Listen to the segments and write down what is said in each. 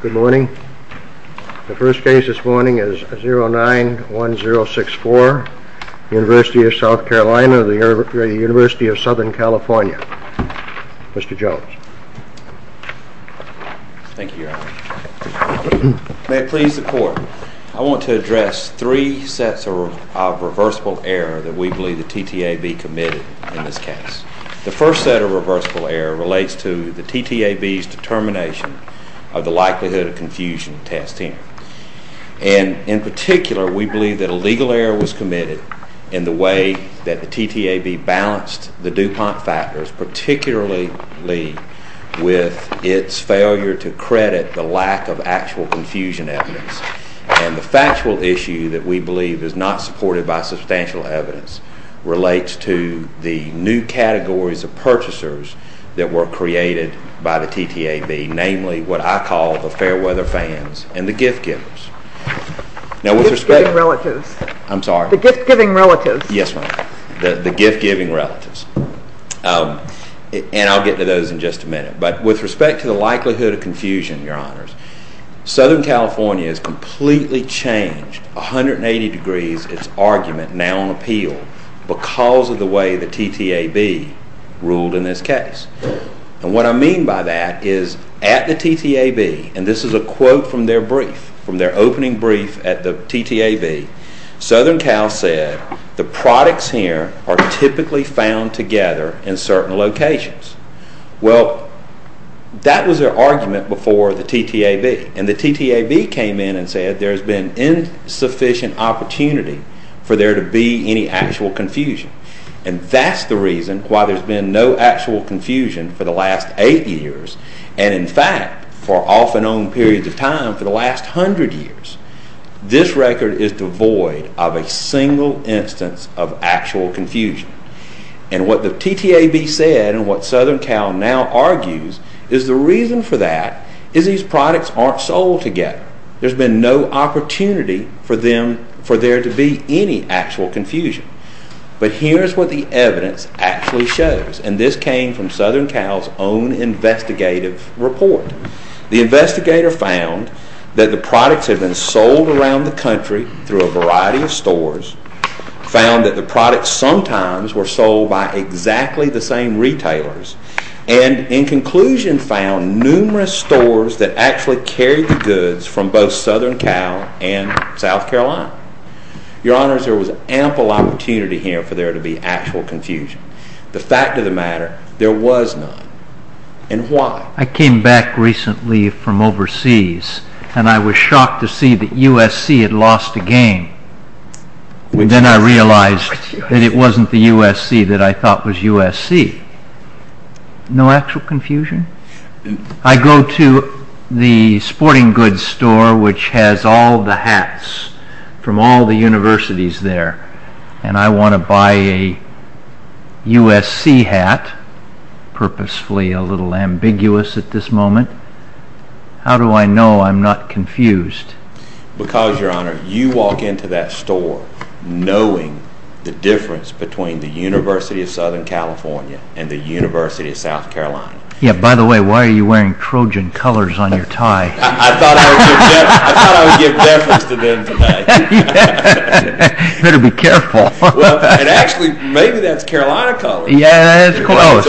Good morning. The first case this morning is 091064, University of South Carolina, University of Southern California. Mr. Jones. Thank you. May I please report? I want to address three sets of reversible error that we believe the TTAV committed in this case. The first set of reversible error relates to the TTAV's determination of the likelihood of confusion testing. And in particular, we believe that a legal error was committed in the way that the TTAV balanced the DuPont factors, particularly with its failure to credit the lack of actual confusion evidence. And the factual issue that we believe is not supported by substantial evidence relates to the new categories of purchasers that were created by the TTAV, namely what I call the Fairweather fans and the gift-giving relatives. And I'll get to those in just a minute. But with respect to the likelihood of confusion, your honors, Southern California has completely changed 180 degrees its argument now on appeal because of the way the TTAV ruled in this case. And what I mean by that is at the TTAV, and this is a quote from their brief, from their opening brief at the TTAV, Southern Cal said the products here are typically found together in certain locations. Well, that was their argument before the TTAV. And the TTAV has an insufficient opportunity for there to be any actual confusion. And that's the reason why there's been no actual confusion for the last eight years. And in fact, for off and on periods of time, for the last hundred years, this record is devoid of a single instance of actual confusion. And what the TTAV said and what Southern Cal now argues is the reason for that is these products aren't sold together. There's been no opportunity for there to be any actual confusion. But here's what the evidence actually shows. And this came from Southern Cal's own investigative report. The investigator found that the products have been sold around the country through a variety of stores, found that the products sometimes were sold by exactly the same retailers, and in conclusion found numerous stores that actually carried the goods from both Southern Cal and South Carolina. Your Honors, there was ample opportunity here for there to be actual confusion. The fact of the matter, there was none. And why? I came back recently from overseas, and I was shocked to see that the USC that I thought was USC, no actual confusion? I go to the sporting goods store which has all the hats from all the universities there, and I want to buy a USC hat, purposefully a little ambiguous at this moment. How do I know I'm not confused? Because, Your Honor, you walk into that store knowing the difference between the University of Southern California and the University of South Carolina. Yeah, by the way, why are you wearing Trojan colors on your tie? I thought I would give deference to them today. Better be careful. Actually, maybe that's Carolina colors. Yeah, it's close.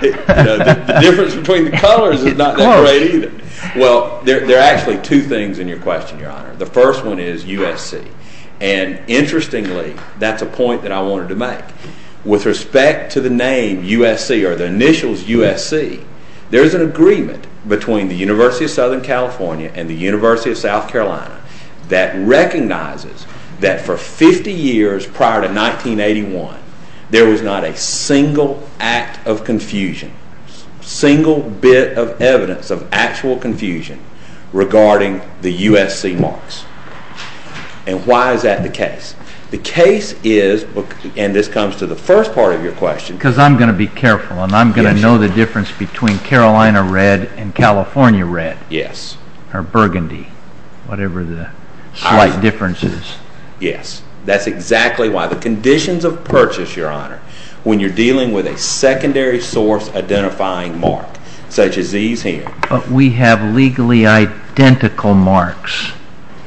The difference between the colors is not the grade. Well, there are actually two things in your question, Your Honor. The first one is USC, and interestingly, that's a point that I wanted to make. With respect to the name USC or the initials USC, there's an agreement between the University of Southern California and the University of South Carolina that recognizes that for 50 years prior to 1981, there was not a single act of confusion, single bit of evidence of actual confusion regarding the USC marks. And why is that the case? The case is, and this comes to the first part of your question. Because I'm going to be careful, and I'm going to know the difference between Carolina red and California red. Yes. Or burgundy, whatever the slight difference is. Yes. That's exactly why the conditions of purchase, Your Honor, when you're dealing with a secondary source identifying mark, such as these here. But we have legally identical marks,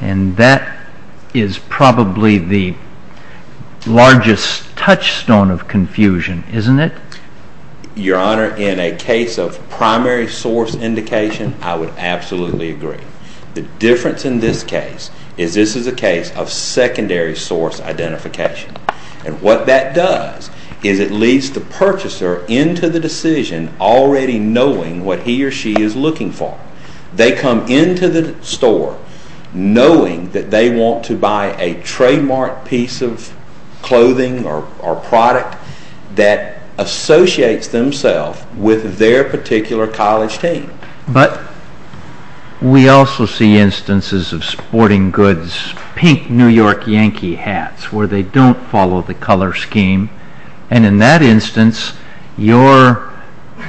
and that is probably the largest touchstone of confusion, isn't it? Your Honor, in a case of primary source indication, I would absolutely agree. The difference in this case is this purchaser into the decision already knowing what he or she is looking for. They come into the store knowing that they want to buy a trademark piece of clothing or product that associates themselves with their particular college team. But we also see instances of sporting goods, pink New York Yankee hats, where they don't follow the color scheme. And in that instance, your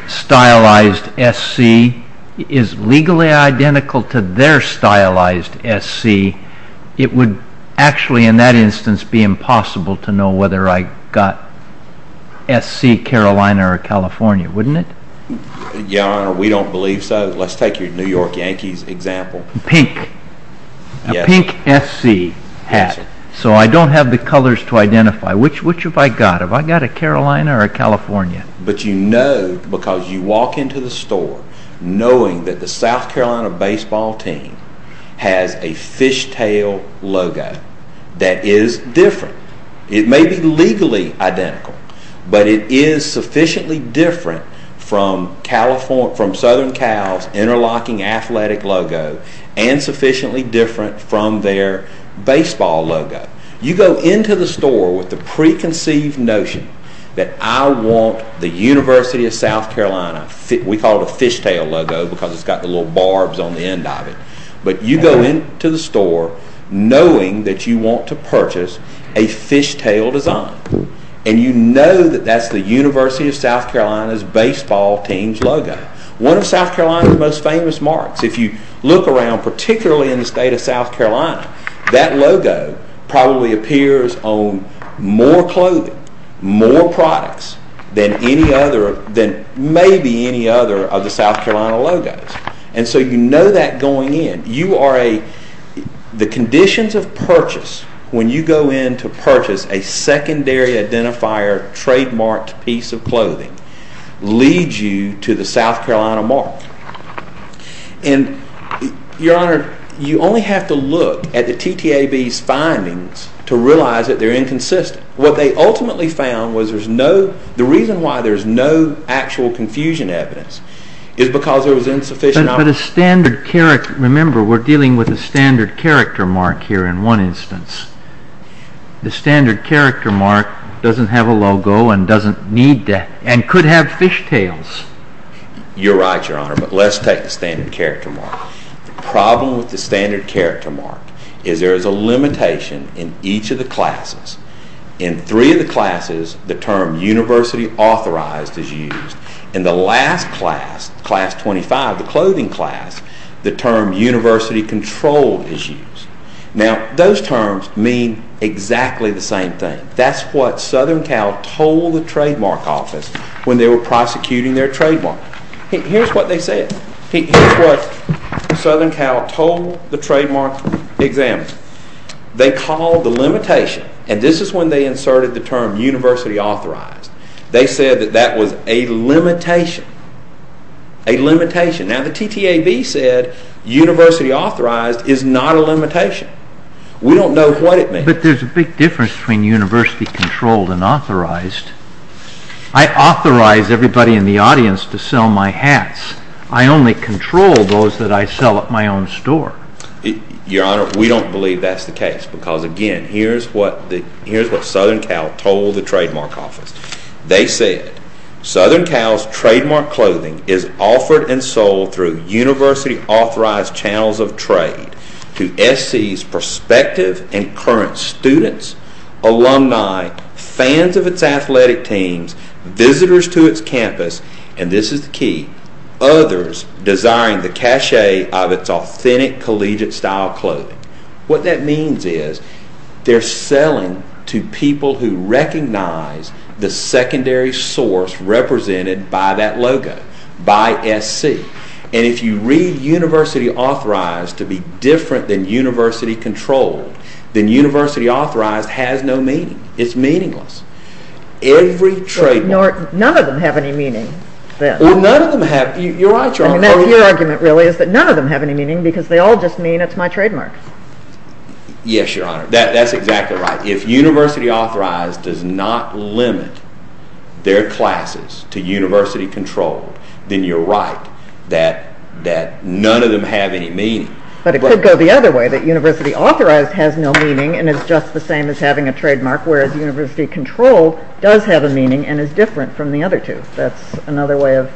stylized SC is legally identical to their stylized SC. It would actually, in that instance, be impossible to know whether I got SC Carolina or California, wouldn't it? Your Honor, we don't believe so. Let's take your New York Yankees example. Pink. A pink SC hat. So I don't have the colors to identify. Which have I got? Have I got a Carolina or a California? But you know, because you walk into the store knowing that the South Carolina baseball team has a fishtail logo that is different. It may be legally identical, but it is sufficiently different from Southern Cal's interlocking athletic logo and sufficiently different from their baseball logo. You go into the store with the preconceived notion that I want the University of South Carolina, we call it a fishtail logo because it's got the little barbs on the end of it. But you go into the store knowing that you want to purchase a fishtail design. And you know that that's the University of South Carolina. Look around, particularly in the state of South Carolina, that logo probably appears on more clothing, more products than maybe any other of the South Carolina logos. And so you know that going in. The conditions of purchase when you go in to purchase a secondary identifier trademarked piece of clothing, leads you to the South Carolina mark. And your honor, you only have to look at the TTAB's findings to realize that they're inconsistent. What they ultimately found was there's no, the reason why there's no actual confusion evidence is because there was insufficient... But a standard character, remember we're dealing with a standard character mark here in one instance. The standard character mark doesn't have a logo and doesn't need that and could have fishtails. You're right, your honor. But let's take the standard character mark. The problem with the standard character mark is there is a limitation in each of the classes. In three of the classes, the term University Authorized is used. In the last class, class 25, the clothing class, the term University Controlled is used. Now those terms mean exactly the same thing. That's what Southern Cal told the trademark office when they were prosecuting their trademark. Here's what they said. Here's what Southern Cal told the trademark examiner. They called the limitation, and this is when they inserted the term University Authorized, they said that that was a limitation, a limitation. Now the TTAB said University Authorized is not a limitation. We don't know what it means. But there's a big difference between University Controlled and Authorized. I authorize everybody in the audience to sell my hats. I only control those that I sell at my own store. Your honor, we don't believe that's the case because again, here's what Southern Cal told the trademark office. They said, Southern Cal's trademark clothing is offered and sold through University Authorized channels of trade to SC's prospective and current students, alumni, fans of its athletic teams, visitors to its campus, and this is key, others desiring the cachet of its authentic collegiate style clothing. What that means is they're selling to people who recognize the secondary source represented by that logo, by SC. And if you read University Authorized to be different than University Controlled, then University Authorized has no meaning. It's meaningless. Every trademark. None of them have any meaning. None of them have. You're right, your honor. I mean, that's your argument really is that none of them have any meaning because they all just mean it's my trademark. Yes, your honor. That's exactly right. If University Authorized does not limit their classes to University Controlled, then you're right that none of them have any meaning. But it could go the other way, that University Authorized has no meaning and is just the same as having a trademark, whereas University Controlled does have a meaning and is different from the other two. That's another way of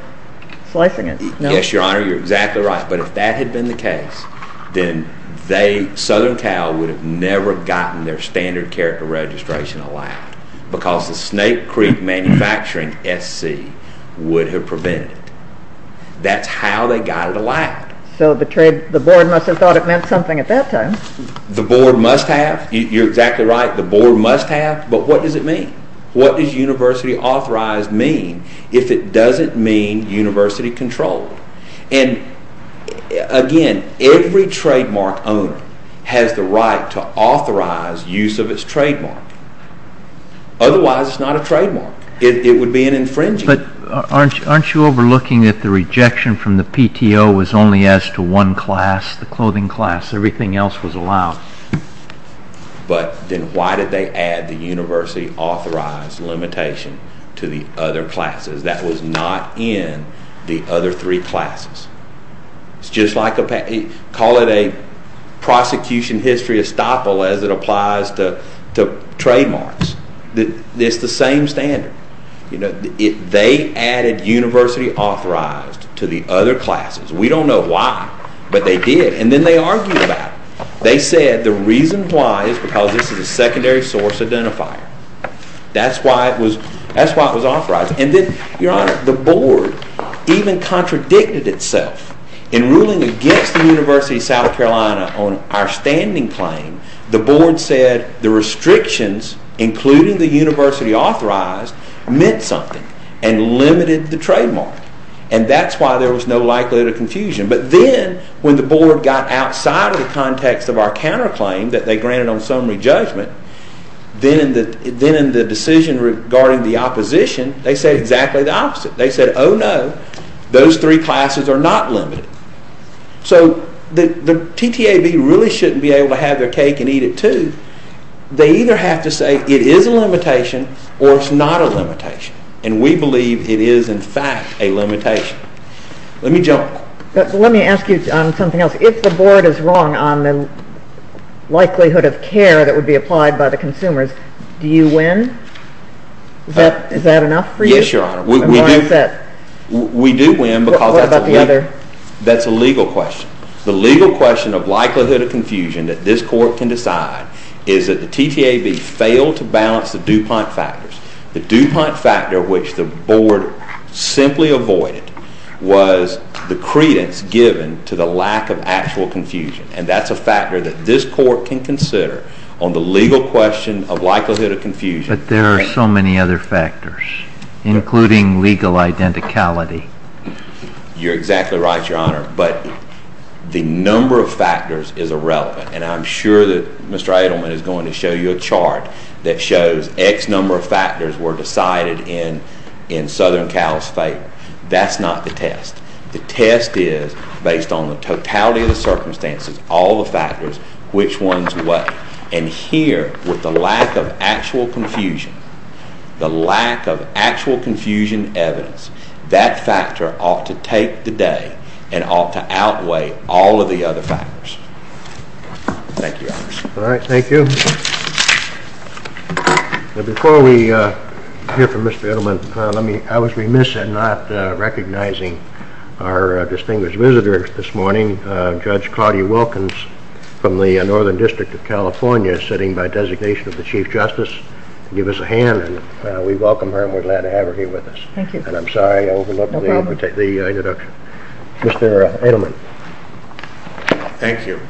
slicing it. Yes, your honor. You're exactly right. But if that had been the case, then Southern Cal would have never gotten their standard character registration allowed because the Snape Creek Manufacturing SC would have prevented it. That's how they got it allowed. So the board must have thought it meant something at that time. The board must have. You're exactly right. The board must have. But what does it mean? What does University Authorized mean if it doesn't mean University Controlled? And again, every trademark owner has the right to authorize use of its trademark. Otherwise, it's not a trademark. It would be an infringement. But aren't you overlooking that the rejection from the PTO was only as to one class, the clothing class? Everything else was allowed. But then why did they add the University Authorized limitation to the other classes? That was not in the other three classes. It's just like, call it a prosecution history as it applies to trademarks. It's the same standard. They added University Authorized to the other classes. We don't know why, but they did. And then they argued about it. They said the reason why is because this is a secondary source identifier. That's why it was authorized. And then, your honor, the board even contradicted itself in ruling against the University of South Carolina on our standing claim. The board said the restrictions, including the University Authorized, meant something and limited the trademark. And that's why there was no likelihood of confusion. But then, when the board got outside of the context of our counterclaim that they granted on summary judgment, then the decision regarding the opposition, they said exactly the opposite. They said, oh no, those three classes are not limited. So, the TTAB really shouldn't be able to have their cake and eat it too. They either have to say it is a limitation or it's not a limitation. And we believe it is, in fact, a limitation. Let me jump. Let me ask you something else. If the board is wrong on the likelihood of care that would be applied by the consumers, do you win? Is that enough for you? Yes, your honor. We do win because that's a legal question. The legal question of likelihood of confusion that this court can decide is that the TTAB failed to balance the DuPont factors. The DuPont factor, which the board simply avoided, was the credence given to the lack of actual confusion. And that's a factor that this court can consider on the legal question of likelihood of confusion. But there are so many other factors, including legal identicality. You're exactly right, your honor. But the number of factors is irrelevant. And I'm sure that Mr. Edelman is going to show you a chart that shows X number of factors were decided in Southern Cal's favor. That's not the test. The test is based on the totality of the circumstances, all the factors, which ones were. And here, with the lack of actual confusion, the lack of actual confusion evidence, that factor ought to take the day and ought to outweigh all of the other factors. Thank you, your honor. All right, thank you. Before we hear from Mr. Edelman, I was remiss in not recognizing our distinguished visitor this morning, Judge Claudia Wilkins, from the Northern District of California, sitting by designation of the Chief Justice. Give us a hand. We welcome her and we're glad to have her here with us. Thank you. And I'm sorry I overlooked the introduction. Mr. Edelman. Thank you.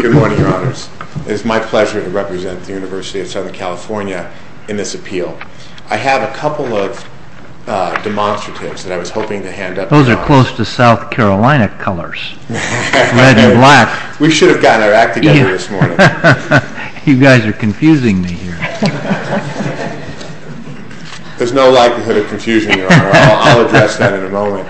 Good morning, your honors. It is my pleasure to represent the University of Southern California in this appeal. I have a couple of demonstratives that I was hoping to hand out. Those are close to South Carolina colors. We should have gotten our act together this morning. You guys are confusing me here. There's no likelihood of confusing you, your honor. I'll address that in a moment.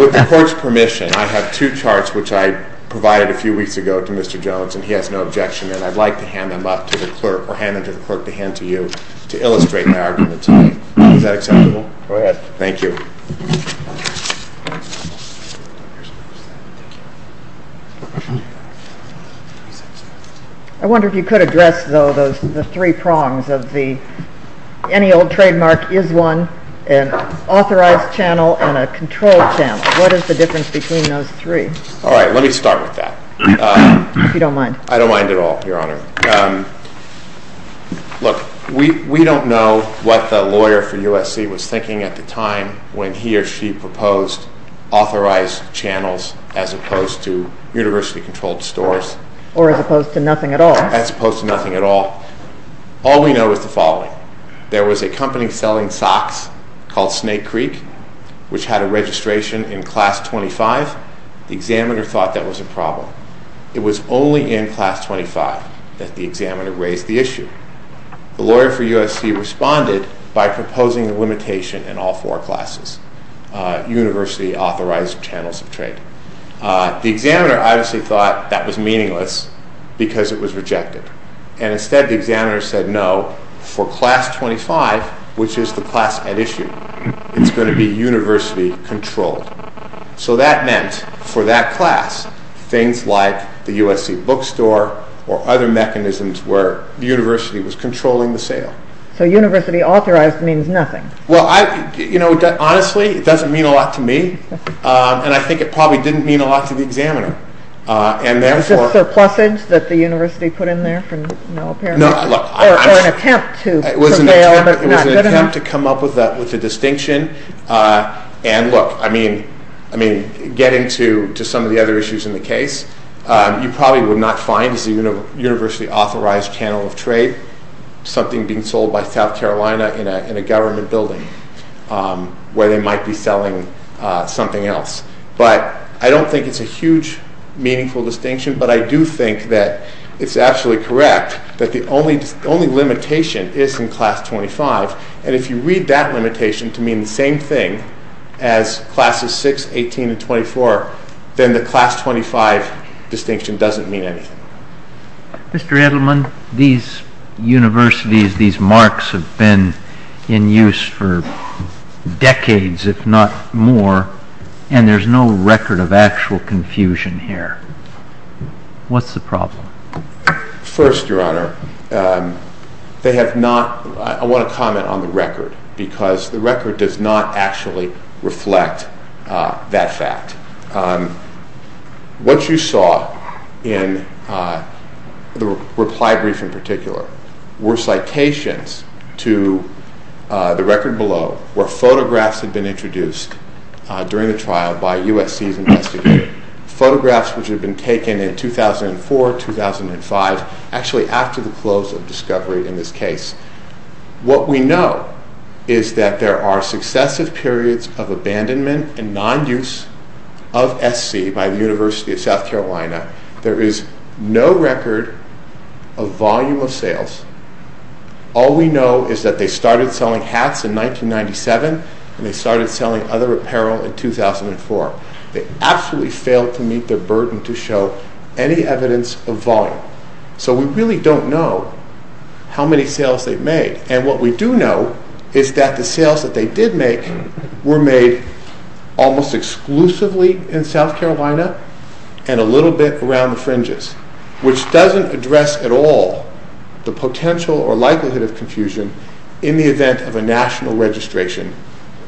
With the court's permission, I have two charts which I provided a few weeks ago to Mr. Jones, and he has no objection. And I'd like to hand them up to the clerk or hand them to the clerk to hand to you to illustrate my arguments. Is that acceptable? Go ahead. Thank you. I wonder if you could address, though, the three prongs of the any old trademark is one, an authorized channel, and a controlled channel. What is the difference between those three? All right. Let me start with that. If you don't mind. I don't mind at all, your honor. Look, we don't know what the lawyer for USC was thinking at the time when he or she proposed authorized channels as opposed to university controlled stores. Or as opposed to nothing at all. As opposed to nothing at all. All we know is the following. There was a company selling socks called Snake Creek, which had a registration in class 25. The examiner thought that was a problem. It was only in class 25 that the examiner raised the issue. The lawyer for USC responded by proposing a limitation in all four classes, university authorized channels of trade. The examiner obviously thought that was meaningless because it was rejected. And instead the examiner said no, for class 25, which is the classified issue, it's going to be university controlled. So that meant for that class, things like the USC bookstore or other mechanisms where the university was controlling the sale. So university authorized means nothing. Well, you know, honestly, it doesn't mean a lot to me. And I think it probably didn't mean a lot to the examiner. It was just a plethora that the university put in there in an attempt to prevail. It was an attempt to come up with a distinction. And look, I mean, getting to some of the other issues in the case, you probably would not find as a university authorized channel of trade something being sold by South Carolina in a government building where they might be selling something else. But I don't think it's a huge meaningful distinction, but I do think that it's actually correct that the only limitation is in class 25. And if you read that limitation to mean the same thing as classes 6, 18, and 24, then the class 25 distinction doesn't mean anything. Mr. Edelman, these universities, these marks have been in use for decades, if not more, and there's no record of actual confusion here. What's the problem? First, Your Honor, they have not – I want to comment on the record because the record does not actually reflect that fact. What you saw in the reply brief in particular were citations to the record below where photographs had been introduced during the trial by USC's investigators, photographs which had been taken in 2004, 2005, actually after the close of discovery in this case. What we know is that there are successive periods of abandonment and non-use of SC by the University of South Carolina. There is no record of volume of sales. All we know is that they started selling hats in 1997 and they started selling other apparel in 2004. They absolutely failed to meet their burden to show any evidence of volume. So we really don't know how many sales they made, and what we do know is that the sales that they did make were made almost exclusively in South Carolina and a little bit around the fringes, which doesn't address at all the potential or likelihood of confusion in the event of a national registration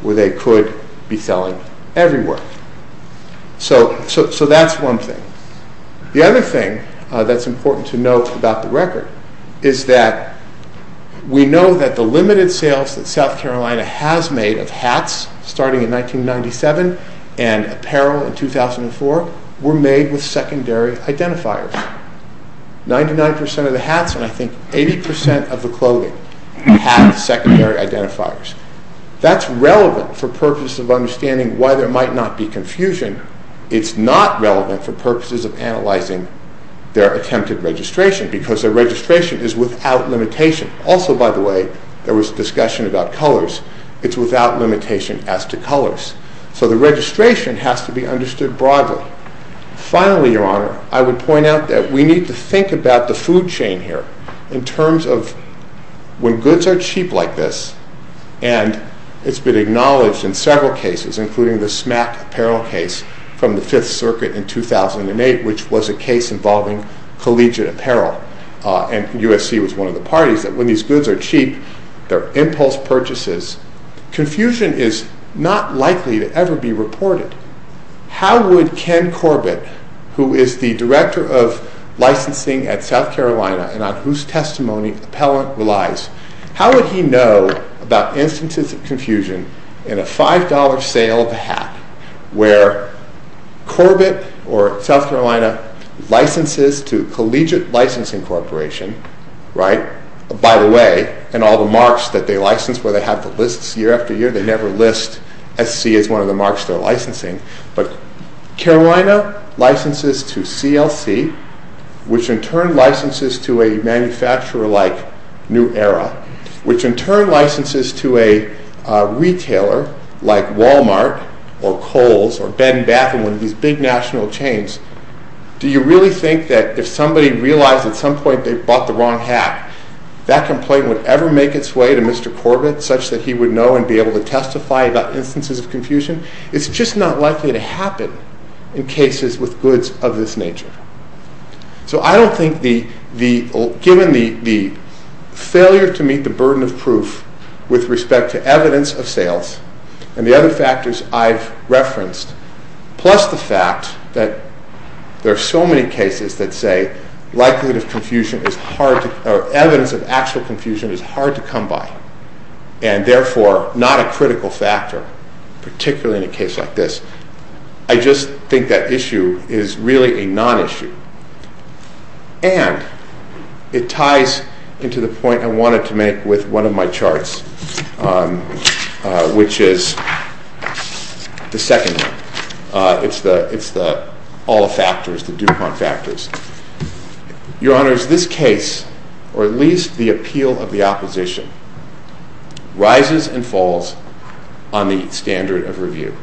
where they could be selling everywhere. So that's one thing. The other thing that's important to note about the record is that we know that the limited sales that South Carolina has made of hats starting in 1997 and apparel in 2004 were made with secondary identifiers. 99% of the hats and I think 80% of the clothing have secondary identifiers. That's relevant for purposes of understanding why there might not be confusion. It's not relevant for purposes of analyzing their attempted registration because their registration is without limitation. Also, by the way, there was a discussion about colors. It's without limitation as to colors. So the registration has to be understood broadly. Finally, Your Honor, I would point out that we need to think about the food chain here in terms of when goods are cheap like this, and it's been acknowledged in several cases, including the smack apparel case from the Fifth Circuit in 2008, which was a case involving collegiate apparel, and USC was one of the parties, that when these goods are cheap, they're impulse purchases, confusion is not likely to ever be reported. How would Ken Corbett, who is the Director of Licensing at South Carolina and on whose testimony appellant relies, how would he know about instances of confusion in a $5 sale hat where Corbett or South Carolina licenses to Collegiate Licensing Corporation, by the way, and all the marks that they license where they have the lists year after year, they never list SC as one of the marks they're licensing, but Carolina licenses to CLC, which in turn licenses to a manufacturer like New Era, which in turn licenses to a retailer like Wal-Mart or Kohl's or Ben Baffin, one of these big national chains. Do you really think that if somebody realized at some point they bought the wrong hat, that complaint would ever make its way to Mr. Corbett such that he would know and be able to testify about instances of confusion? It's just not likely to happen in cases with goods of this nature. So I don't think, given the failure to meet the burden of proof with respect to evidence of sales and the other factors I've referenced, plus the fact that there are so many cases that say evidence of actual confusion is hard to come by and therefore not a critical factor, particularly in a case like this. I just think that issue is really a non-issue. And it ties into the point I wanted to make with one of my charts, which is the second one. It's the all factors, the DuPont factors. Your Honors, this case, or at least the appeal of the opposition, rises and falls on the standard of review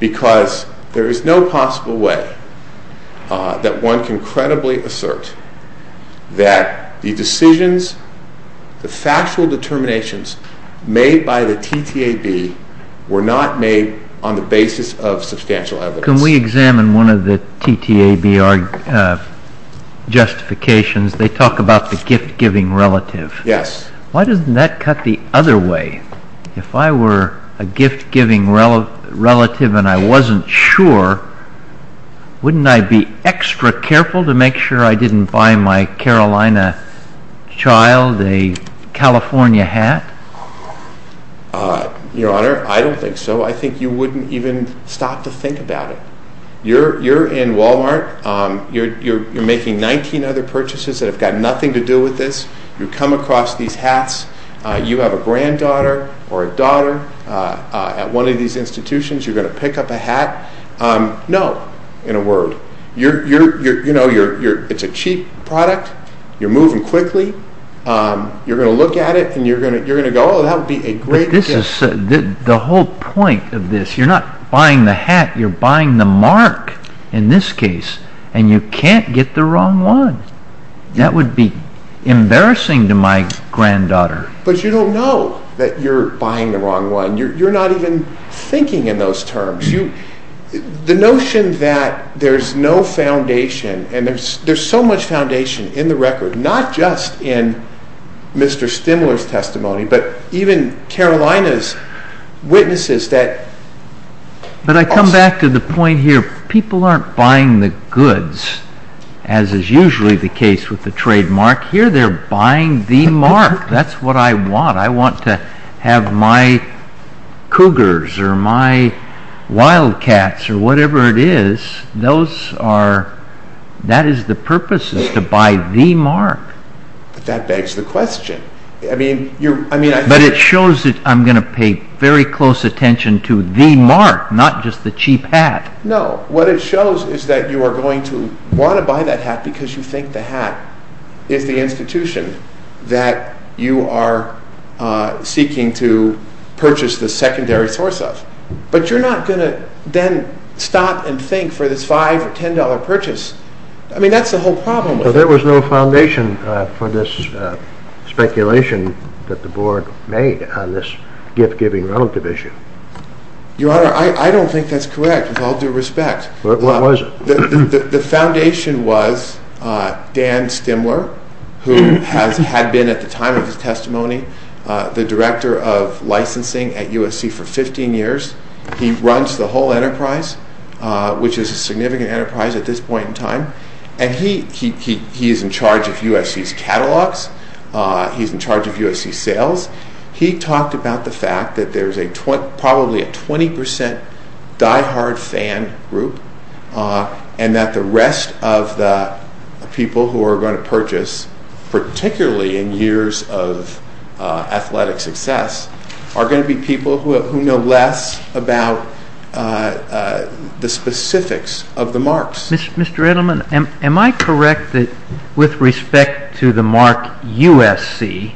because there is no possible way that one can credibly assert that the decisions, the factual determinations made by the TTAB were not made on the basis of substantial evidence. Can we examine one of the TTAB justifications? They talk about the gift-giving relative. Yes. Why doesn't that cut the other way? If I were a gift-giving relative and I wasn't sure, wouldn't I be extra careful to make sure I didn't buy my Carolina child a California hat? Your Honor, I don't think so. I think you wouldn't even stop to think about it. You're in Walmart. You're making 19 other purchases that have got nothing to do with this. You come across these hats. You have a granddaughter or a daughter. At one of these institutions, you're going to pick up a hat. No, in a word. It's a cheap product. You're moving quickly. You're going to look at it and you're going to go, oh, that would be a great gift. The whole point of this, you're not buying the hat, you're buying the mark in this case, and you can't get the wrong one. That would be embarrassing to my granddaughter. But you don't know that you're buying the wrong one. You're not even thinking in those terms. The notion that there's no foundation, and there's so much foundation in the record, not just in Mr. Stimler's testimony, but even Carolina's witnesses that... But I come back to the point here. People aren't buying the goods, as is usually the case with the trademark. Here, they're buying the mark. That's what I want. I want to have my cougars or my wildcats or whatever it is, those are... That is the purpose is to buy the mark. That begs the question. But it shows that I'm going to pay very close attention to the mark, not just the cheap hat. No, what it shows is that you are going to want to buy that hat because you think the hat is the institution that you are seeking to purchase the secondary source of. But you're not going to then stop and think for this $5 or $10 purchase. I mean, that's the whole problem. There was no foundation for this speculation that the board made on this gift-giving relative issue. Your Honor, I don't think that's correct, with all due respect. What was it? The foundation was Dan Stimler, who had been at the time of his testimony the director of licensing at USC for 15 years. He runs the whole enterprise, which is a significant enterprise at this point in time. And he is in charge of USC's catalogs. He's in charge of USC's sales. He talked about the fact that there's probably a 20% diehard fan group and that the rest of the people who are going to purchase, particularly in years of athletic success, are going to be people who know less about the specifics of the marks. Mr. Edelman, am I correct that with respect to the mark USC,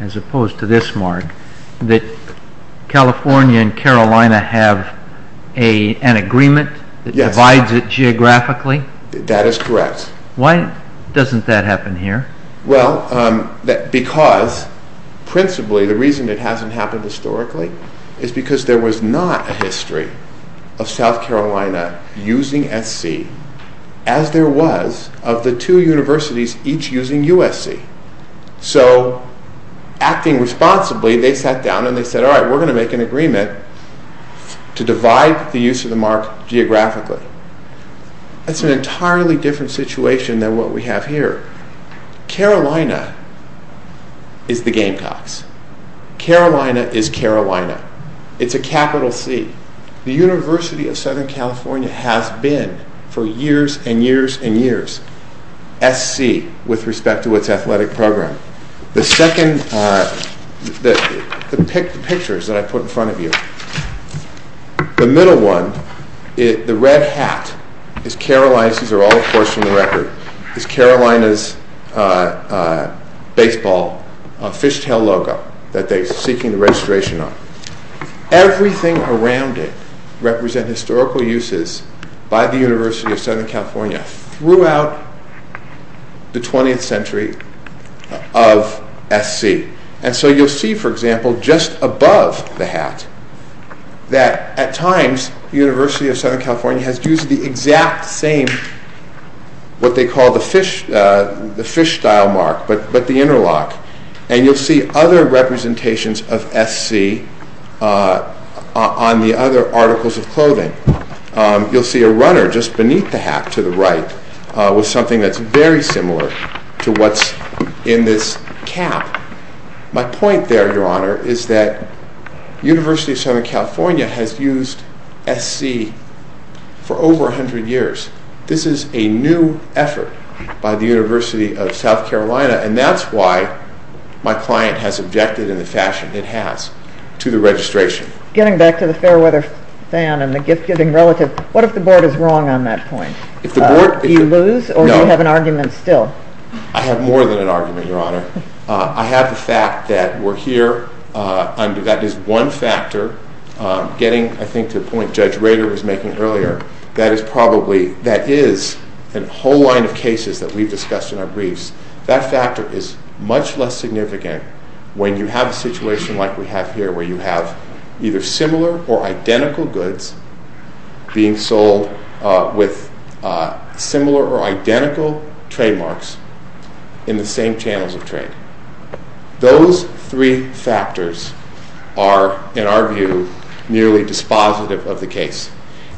as opposed to this mark, that California and Carolina have an agreement that divides it geographically? That is correct. Why doesn't that happen here? Well, because, principally, the reason it hasn't happened historically is because there was not a history of South Carolina using SC as there was of the two universities each using USC. So, acting responsibly, they sat down and they said, all right, we're going to make an agreement to divide the use of the mark geographically. That's an entirely different situation than what we have here. Carolina is the game tops. Carolina is Carolina. It's a capital C. The University of Southern California has been, for years and years and years, SC with respect to its athletic program. The pictures that I put in front of you, the middle one, the red hat, is Carolina's, these are all of course from the record, is Carolina's baseball fishtail logo that they're seeking registration on. Everything around it represents historical uses by the University of Southern California throughout the 20th century of SC. And so you'll see, for example, just above the hat that at times, the University of Southern California has used the exact same, what they call the fish style mark, but the interlock. And you'll see other representations of SC on the other articles of clothing. You'll see a runner just beneath the hat to the right with something that's very similar to what's in this cap. My point there, Your Honor, is that University of Southern California has used SC for over 100 years. This is a new effort by the University of South Carolina and that's why my client has objected in the fashion it has to the registration. Getting back to the fair weather fan and the gift-giving relative, what if the board is wrong on that point? Do you lose or do you have an argument still? I have more than an argument, Your Honor. I have the fact that we're here and that is one factor getting, I think, to the point Judge Rader was making earlier. That is probably, that is, in a whole line of cases that we've discussed in our briefs, that factor is much less significant when you have a situation like we have here where you have either similar or identical goods being sold with similar or identical trademarks in the same channels of trade. Those three factors are, in our view, nearly dispositive of the case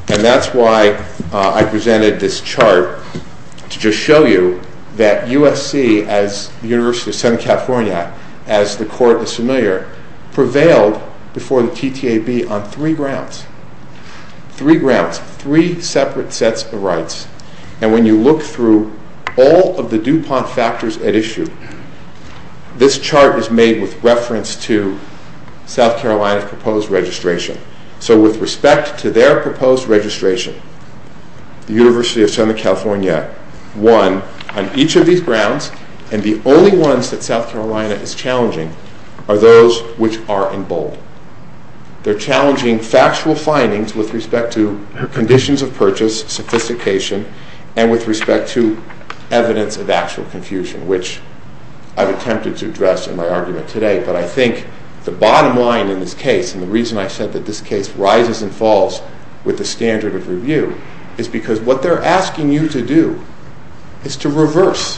and that's why I presented this chart to just show you that USC, as University of Southern California, as the court is familiar, prevailed before the TTAB on three grounds. Three grounds. Three separate sets of rights. And when you look through all of the DuPont factors at issue, this chart was made with reference to South Carolina's proposed registration. So with respect to their proposed registration, the University of Southern California won on each of these grounds and the only ones that South Carolina is challenging are those which are in bold. They're challenging factual findings with respect to conditions of purchase, sophistication, and with respect to evidence of actual confusion, which I've attempted to address in my argument today, but I think the bottom line in this case, and the reason I said that this case rises and falls with the standard of review, is because what they're asking you to do is to reverse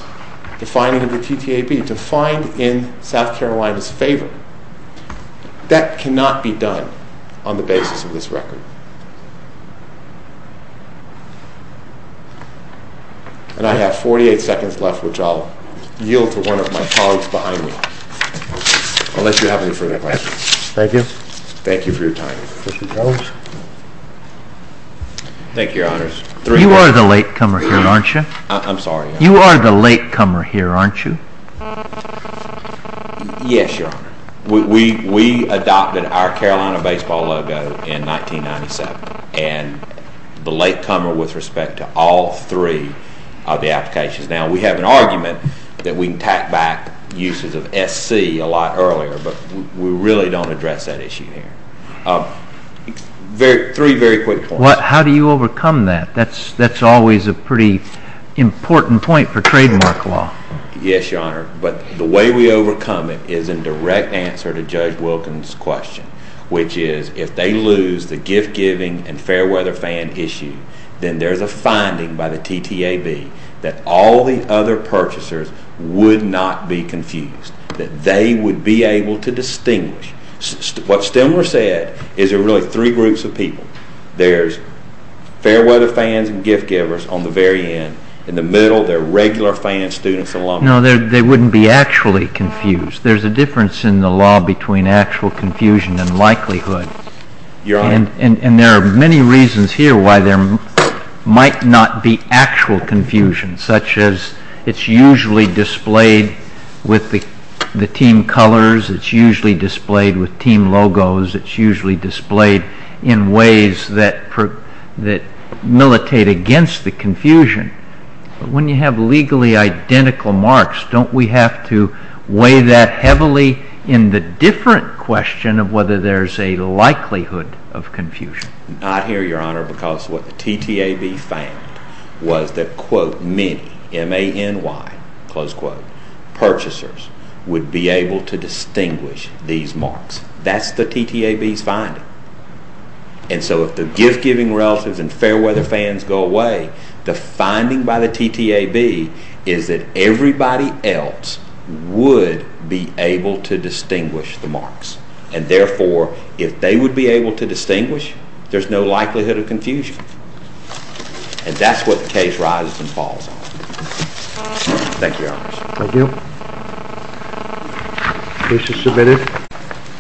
the findings of the TTAB, to find in South Carolina's favor. That cannot be done on the basis of this record. And I have 48 seconds left, which I'll yield to one of my colleagues behind me. Unless you have any further questions. Thank you. Thank you for your time. Thank you, Your Honors. You are the latecomer here, aren't you? I'm sorry? You are the latecomer here, aren't you? Yes, Your Honor. We adopted our Carolina baseball logo in 1997, and the latecomer with respect to all three of the applications. Now, we have an argument that we can tack back uses of SC a lot earlier, but we really don't address that issue here. Three very quick points. How do you overcome that? That's always a pretty important point for trademark law. Yes, Your Honor. But the way we overcome it is in direct answer to Judge Wilkins' question, which is if they lose the gift-giving and fair-weather fan issue, then there's a finding by the TTAB that all the other purchasers would not be confused, that they would be able to distinguish. What Stemler said is there are really three groups of people. There's fair-weather fans and gift-givers on the very end. In the middle, there are regular fans, students, and alumni. No, they wouldn't be actually confused. There's a difference in the law between actual confusion and likelihood. Your Honor. And there are many reasons here why there might not be actual confusion, such as it's usually displayed with the team colors, it's usually displayed with team logos, it's usually displayed in ways that militate against the confusion. When you have legally identical marks, don't we have to weigh that heavily in the different question of whether there's a likelihood of confusion? Not here, Your Honor, because what the TTAB found was that, quote, many, M-A-N-Y, close quote, purchasers would be able to distinguish these marks. That's the TTAB finding. And so if the gift-giving relatives and fair-weather fans go away, the finding by the TTAB is that everybody else would be able to distinguish the marks. And therefore, if they would be able to distinguish, there's no likelihood of confusion. And that's what the case rises and falls on. Thank you, Your Honor. Thank you. Thank you. Thank you.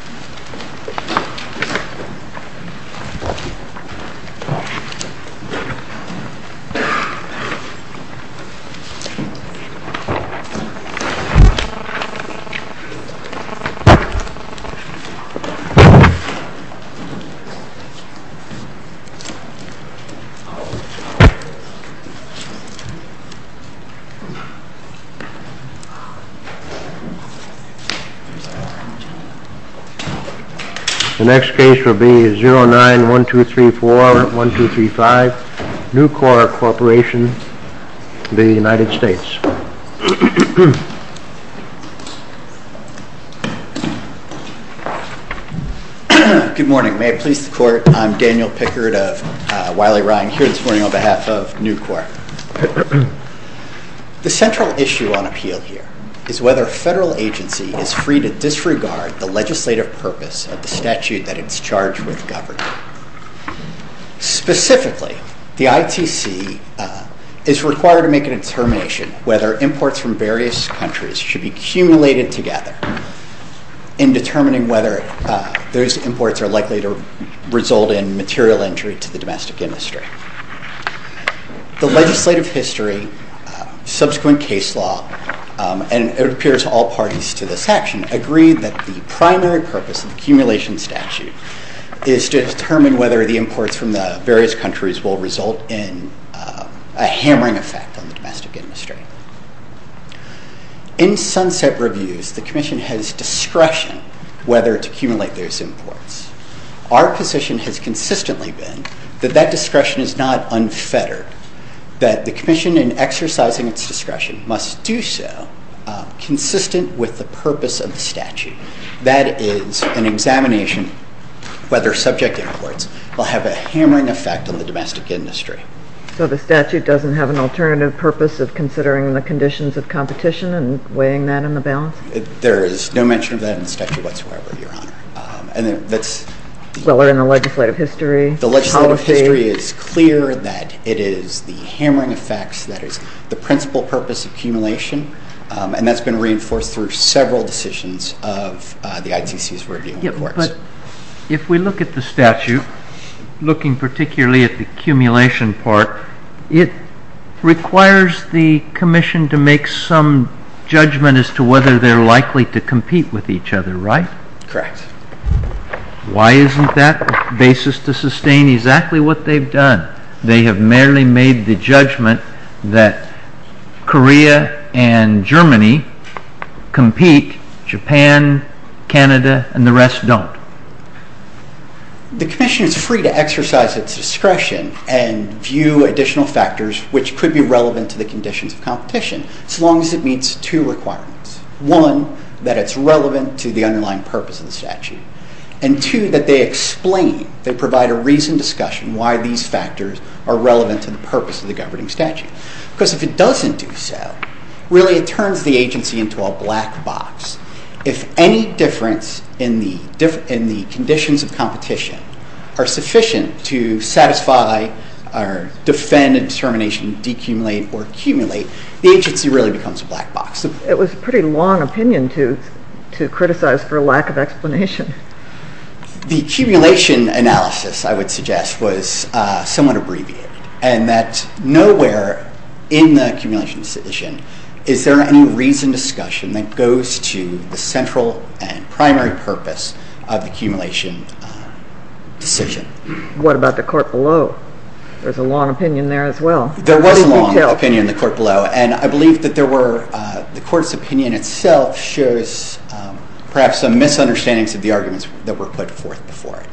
The next case will be 09-1234-1235, New Corp. Corporation of the United States. Good morning. May it please the Court, I'm Daniel Pickard of Wiley-Rodham Court this morning on behalf of New Corp. The central issue on appeal here is whether a federal agency is free to disregard the legislative purpose of the statute that it's charged with governing. Specifically, the ITC is required to make an determination whether imports from various countries should be cumulated together in determining whether those imports are likely to result in material injury to the domestic industry. The legislative history, subsequent case law, and it appears all parties to this action, agree that the primary purpose of the cumulation statute is to determine whether the imports from the various countries will result in a hammering effect on the domestic industry. In sunset reviews, the Commission has discretion whether to cumulate those imports. Our position has consistently been that that discretion is not unfettered, that the Commission in exercising its discretion must do so consistent with the purpose of the statute. That is, an examination whether subject imports will have a hammering effect on the domestic industry. So the statute doesn't have an alternative purpose of considering the conditions of competition and weighing that in the balance? There is no mention of that in the statute whatsoever, Your Honor. Well, we're in the legislative history policy. The legislative history is clear that it is the hammering effects that is the principal purpose of cumulation, and that's been reinforced through several decisions of the ITC's review. But if we look at the statute, looking particularly at the cumulation part, it requires the Commission to make some judgment as to whether they're likely to compete with each other, right? Correct. Why isn't that the basis to sustain exactly what they've done? They have merely made the judgment that Korea and Germany compete, Japan, Canada, and the rest don't. The Commission is free to exercise its discretion and view additional factors which could be relevant to the conditions of competition, so long as it meets two requirements. One, that it's relevant to the underlying purpose of the statute, and two, that they explain, they provide a reasoned discussion why these factors are relevant to the purpose of the governing statute. Because if it doesn't do so, really it turns the agency into a black box. If any difference in the conditions of competition are sufficient to satisfy or defend a determination to decumulate or cumulate, the agency really becomes a black box. It was a pretty long opinion to criticize for a lack of explanation. The accumulation analysis, I would suggest, was somewhat abbreviated and that nowhere in the accumulation decision is there any reasoned discussion that goes to the central and primary purpose of the accumulation decision. What about the court below? There's a long opinion there as well. There was a long opinion in the court below and I believe that the court's opinion itself shows perhaps some misunderstandings of the arguments that were put forth before.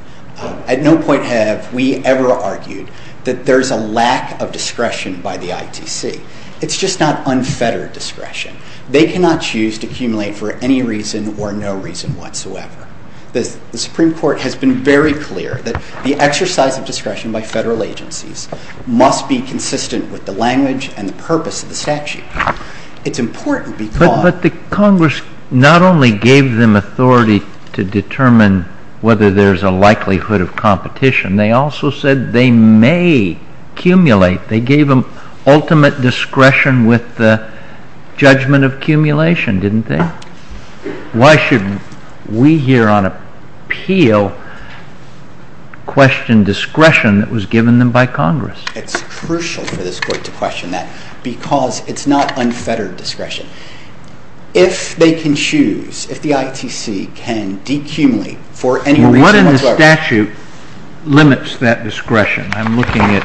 At no point have we ever argued that there's a lack of discretion by the ITC. It's just not unfettered discretion. They cannot choose to cumulate for any reason or no reason whatsoever. The Supreme Court has been very clear that the exercise of discretion by federal agencies must be consistent with the language and the purpose of the statute. It's important because... But the Congress not only gave them authority to determine whether there's a likelihood of competition, they also said they may accumulate. They gave them ultimate discretion with the judgment of accumulation, didn't they? Why should we here on appeal question discretion that was given them by Congress? It's crucial for this court to question that because it's not unfettered discretion. If they can choose, if the ITC can decumulate for any reason whatsoever... What in the statute limits that discretion? I'm looking at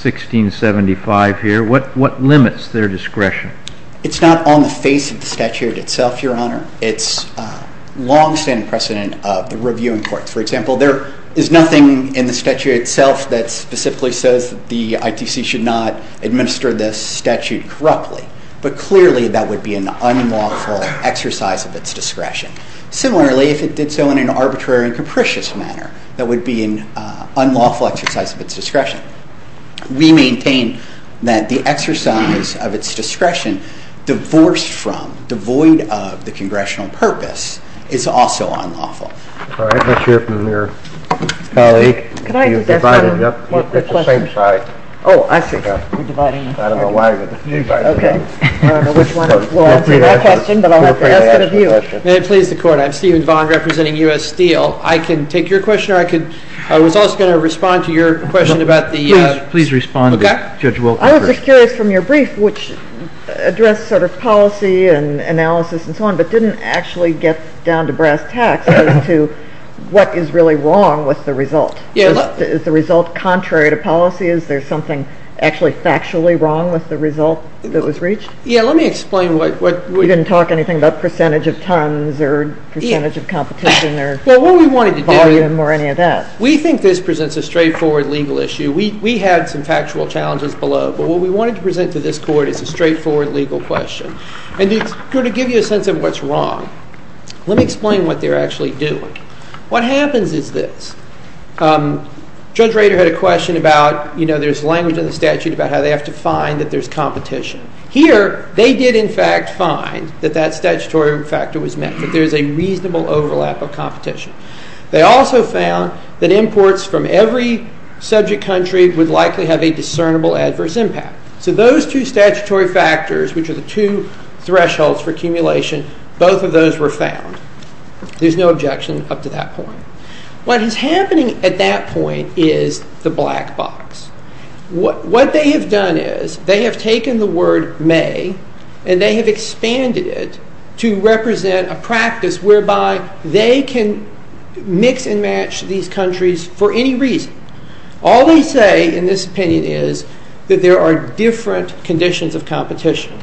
1675 here. What limits their discretion? It's not on the face of the statute itself, Your Honor. It's a long-standing precedent of the reviewing court. For example, there is nothing in the statute itself that specifically says that the ITC should not administer this statute corruptly. But clearly, that would be an unlawful exercise of its discretion. Similarly, if it did so in an arbitrary and capricious manner, that would be an unlawful exercise of its discretion. We maintain that the exercise of its discretion divorced from, devoid of the congressional purpose is also unlawful. All right. Let's hear from your colleague. Can I ask a question? It's the same side. Oh, I forgot. I don't know why. Me, by the way. OK. We'll answer your question, but I'll have to ask it of you. May it please the Court? I'm Stephen Bond, representing U.S. Steel. I can take your question, or I could... I was also going to respond to your question about the... Please respond to it. Judge, we'll... I was just curious from your brief, which addressed sort of policy and analysis and so on, but didn't actually get down to brass tacks as to what is really wrong with the result. Is the result contrary to policy? Is there something actually factually wrong with the result that was reached? Yeah, let me explain what... You didn't talk anything about percentage of tons or percentage of competition or volume or any of that. We think this presents a straightforward legal issue. We had some factual challenges below, but what we wanted to present to this Court is a straightforward legal question. And to give you a sense of what's wrong, let me explain what they're actually doing. What happens is this. Judge Rader had a question about, you know, there's language in the statute about how they have to find that there's competition. Here, they did, in fact, find that that statutory factor was met, that there's a reasonable overlap of competition. They also found that imports from every subject country would likely have a discernible adverse impact. So those two statutory factors, which are the two thresholds for accumulation, both of those were found. There's no objection up to that point. What is happening at that point is the black box. What they have done is they have taken the word may and they have expanded it to represent a practice whereby they can mix and match these countries for any reason. All they say in this opinion is that there are different conditions of competition.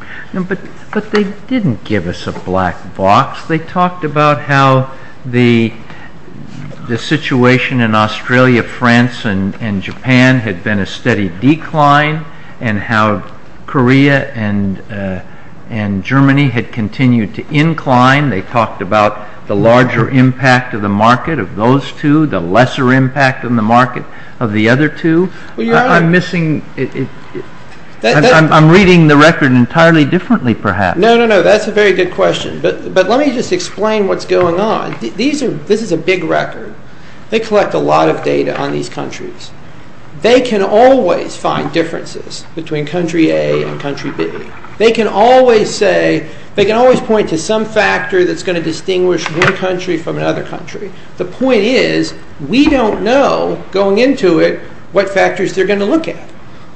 But they didn't give us a black box. They talked about how the situation in Australia, France, and Japan had been a steady decline and how Korea and Germany had continued to incline. They talked about the larger impact of the market of those two, the lesser impact on the market of the other two. I'm reading the record entirely differently, perhaps. No, no, no. That's a very good question. But let me just explain what's going on. This is a big record. They collect a lot of data on these countries. They can always find differences between country A and country B. They can always point to some factor that's going to distinguish one country from another country. The point is we don't know, going into it, what factors they're going to look at.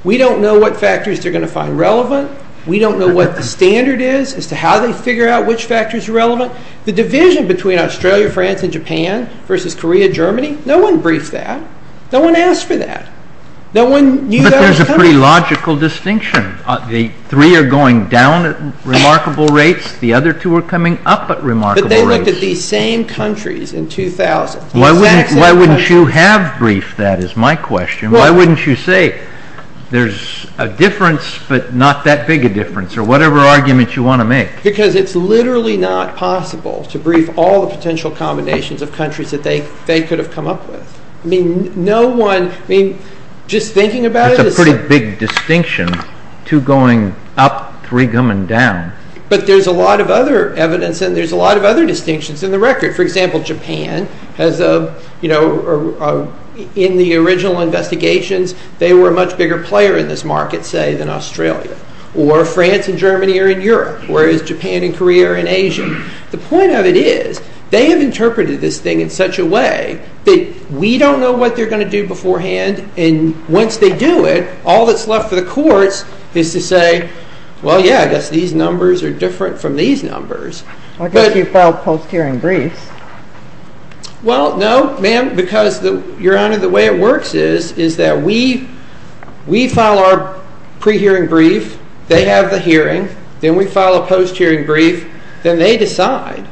We don't know what factors they're going to find relevant. We don't know what the standard is as to how they figure out which factors are relevant. The division between Australia, France, and Japan versus Korea, Germany, no one briefed that. No one asked for that. No one knew that at the time. But there's a pretty logical distinction. The three are going down at remarkable rates. The other two are coming up at remarkable rates. But they looked at these same countries in 2000. Why wouldn't you have briefed that, is my question? Why wouldn't you say there's a difference but not that big a difference or whatever argument you want to make? Because it's literally not possible to brief all the potential combinations of countries that they could have come up with. No one, just thinking about it... That's a pretty big distinction. Two going up, three going down. But there's a lot of other evidence and there's a lot of other distinctions in the record. For example, Japan, in the original investigations, they were a much bigger player in this market, say, than Australia. Or France and Germany are in Europe, whereas Japan and Korea are in Asia. The point of it is, they have interpreted this thing in such a way that we don't know what they're going to do beforehand. And once they do it, all that's left for the courts is to say, well, yeah, I guess these numbers are different from these numbers. I thought you filed post-hearing briefs. Well, no, ma'am, because, Your Honor, the way it works is that we file our pre-hearing brief, they have the hearing, then we file a post-hearing brief, then they decide.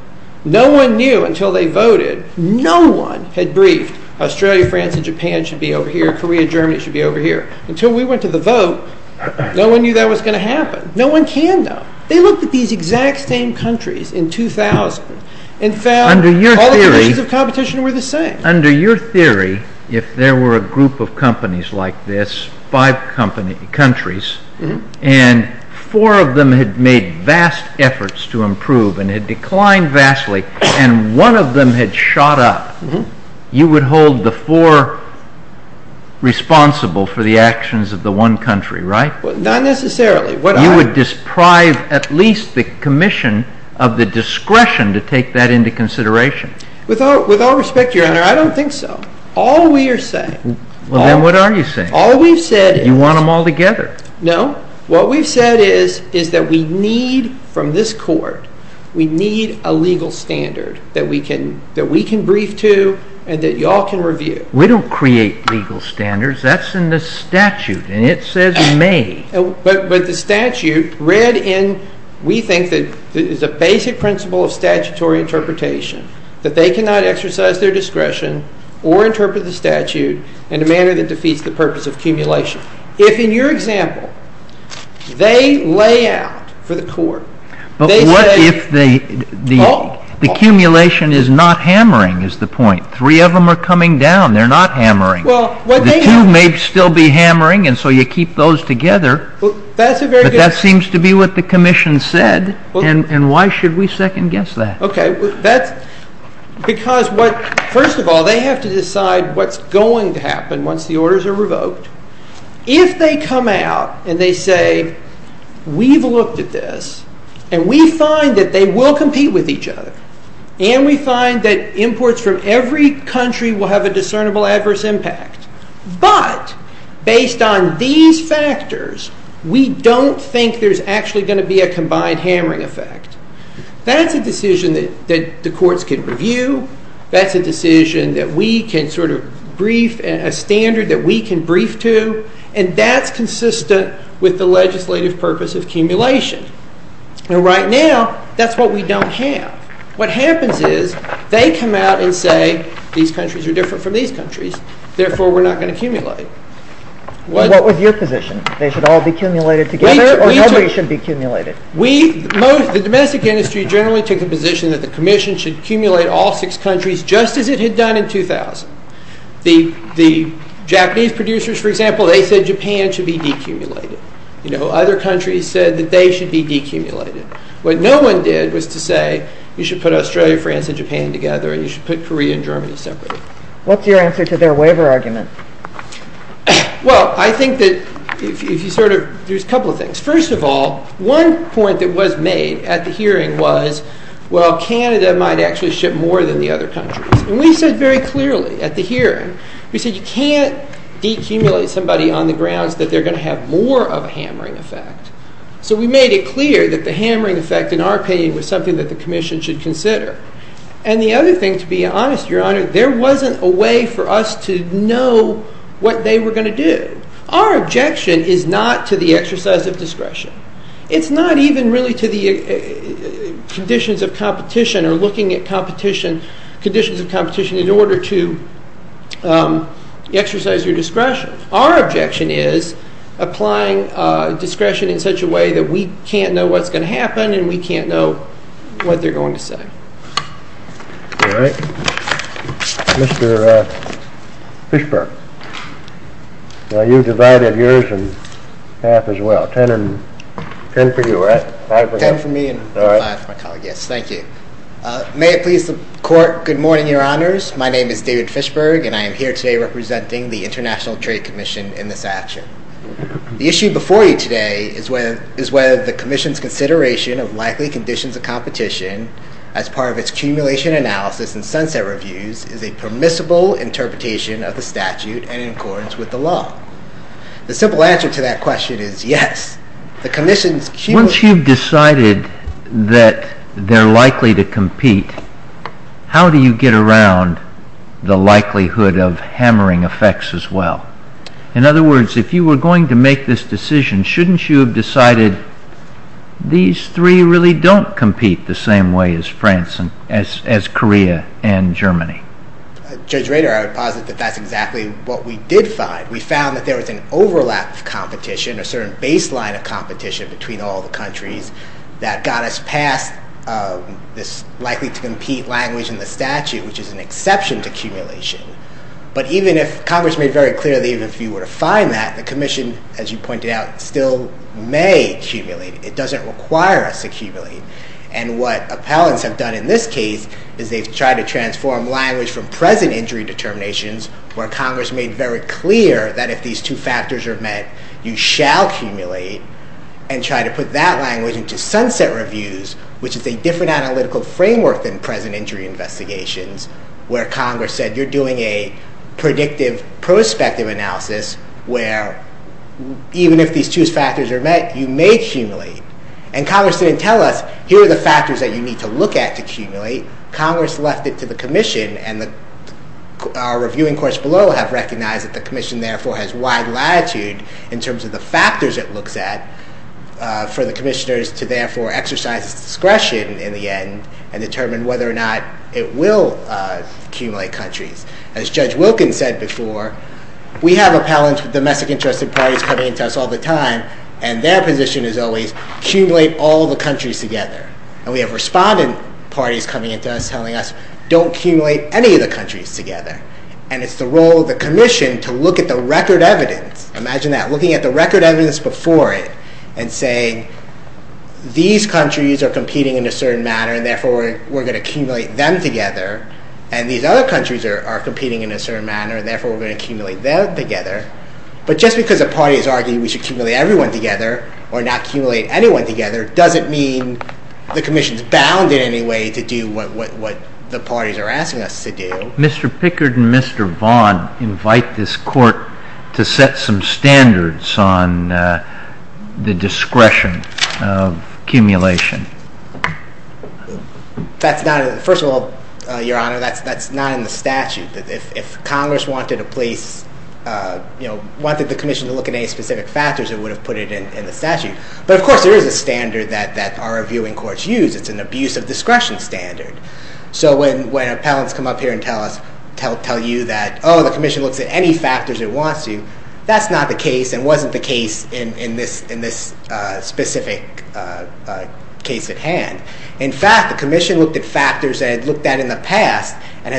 No one knew until they voted, no one had briefed, Australia, France, and Japan should be over here, Korea, Germany should be over here. Until we went to the vote, no one knew that was going to happen. No one can, though. They looked at these exact same countries in 2000 and found all the nations of competition were the same. Under your theory, if there were a group of companies like this, five countries, and four of them had made vast efforts to improve and had declined vastly, and one of them had shot up, you would hold the four responsible for the actions of the one country, right? Not necessarily. You would deprive at least the commission of the discretion to take that into consideration. With all respect, Your Honor, I don't think so. All we are saying... Well, then what are you saying? All we said is... You want them all together. No. What we said is that we need, from this court, we need a legal standard that we can brief to and that you all can review. We don't create legal standards. That's in the statute, and it says you may. But the statute read in, we think that it is a basic principle of statutory interpretation that they cannot exercise their discretion or interpret the statute in a manner that defeats the purpose of accumulation. If, in your example, they lay out for the court... But what if the accumulation is not hammering, is the point. Three of them are coming down. They're not hammering. The two may still be hammering, and so you keep those together. But that seems to be what the commission said, and why should we second-guess that? Okay. Because, first of all, they have to decide what's going to happen once the orders are revoked. If they come out and they say, we've looked at this, and we find that they will compete with each other, and we find that imports from every country will have a discernible adverse impact, but based on these factors, we don't think there's actually going to be a combined hammering effect. That's a decision that the courts can review. That's a decision that we can sort of brief, a standard that we can brief to, and that's consistent with the legislative purpose of accumulation. And right now, that's what we don't have. What happens is they come out and say, these countries are different from these countries, therefore we're not going to accumulate. What was your position? They should all be accumulated together, or nobody should be accumulated? The domestic industry generally took the position that the commission should accumulate all six countries just as it had done in 2000. The Japanese producers, for example, they said Japan should be decumulated. Other countries said that they should be decumulated. What no one did was to say, you should put Australia, France, and Japan together, and you should put Korea and Germany separately. What's your answer to their waiver argument? Well, I think that there's a couple of things. First of all, one point that was made at the hearing was, well, Canada might actually ship more than the other countries. And we said very clearly at the hearing, we said you can't decumulate somebody on the grounds that they're going to have more of a hammering effect. So we made it clear that the hammering effect, in our opinion, was something that the commission should consider. And the other thing, to be honest, Your Honor, there wasn't a way for us to know what they were going to do. Our objection is not to the exercise of discretion. It's not even really to the conditions of competition or looking at conditions of competition in order to exercise your discretion. Our objection is applying discretion in such a way that we can't know what's going to happen and we can't know what they're going to say. All right. Mr. Fishberg. Well, you divided yours in half as well. Ten for you, right? Five for you. Ten for me and five for my colleague, yes. Thank you. May it please the Court, good morning, Your Honors. My name is David Fishberg, and I am here today representing the International Trade Commission in this action. The issue before you today is whether the commission's consideration of likely conditions of competition as part of its accumulation analysis and sunset reviews is a permissible interpretation of the statute and in accordance with the law. The simple answer to that question is yes. Once you've decided that they're likely to compete, how do you get around the likelihood of hammering effects as well? In other words, if you were going to make this decision, shouldn't you have decided these three really don't compete the same way as Korea and Germany? Judge Rader, I would posit that that's exactly what we did find. We found that there was an overlap of competition, a certain baseline of competition between all the countries that got us past this likely to compete language in the statute, which is an exception to accumulation. But even if Congress made very clear that even if you were to find that, the commission, as you pointed out, still may accumulate. It doesn't require us to accumulate. And what appellants have done in this case is they've tried to transform language from present injury determinations, where Congress made very clear that if these two factors are met, you shall accumulate, and try to put that language into sunset reviews, which is a different analytical framework than present injury investigations, where Congress said you're doing a predictive prospective analysis where even if these two factors are met, you may accumulate. And Congress didn't tell us here are the factors that you need to look at to accumulate. Congress left it to the commission, and our reviewing course below has recognized that the commission therefore has wide latitude in terms of the factors it looks at for the commissioners to therefore exercise discretion in the end and determine whether or not it will accumulate countries. As Judge Wilkins said before, we have appellants from domestic interested parties coming to us all the time, and their position is always accumulate all the countries together. And we have respondent parties coming to us telling us don't accumulate any of the countries together. And it's the role of the commission to look at the record evidence. Imagine that, looking at the record evidence before it and saying these countries are competing in a certain manner, and therefore we're going to accumulate them together, and these other countries are competing in a certain manner, and therefore we're going to accumulate them together. But just because the party is arguing we should accumulate everyone together or not accumulate anyone together doesn't mean the commission is bound in any way to do what the parties are asking us to do. Mr. Pickard and Mr. Vaughan invite this court to set some standards on the discretion of accumulation. First of all, Your Honor, that's not in the statute. If Congress wanted the commission to look at any specific factors, it would have put it in the statute. But of course there is a standard that our reviewing courts use. It's an abuse of discretion standard. So when appellants come up here and tell you that, oh, the commission looks at any factors it wants to, that's not the case and wasn't the case in this specific case at hand. In fact, the commission looked at factors that it looked at in the past and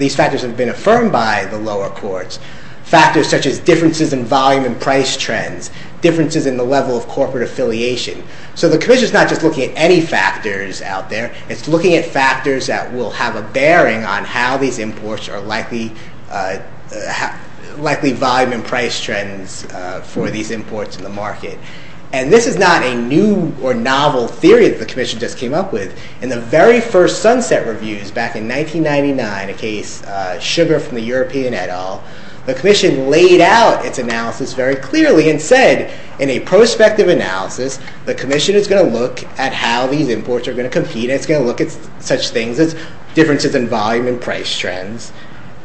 these factors have been affirmed by the lower courts, factors such as differences in volume and price trends, differences in the level of corporate affiliation. So the commission is not just looking at any factors out there. It's looking at factors that will have a bearing on how these imports are likely volume and price trends for these imports to the market. And this is not a new or novel theory that the commission just came up with. In the very first Sunset Reviews back in 1999, a case, Sugar from the European et al., the commission laid out its analysis very clearly and said, in a prospective analysis, the commission is going to look at how these imports are going to compete. It's going to look at such things as differences in volume and price trends.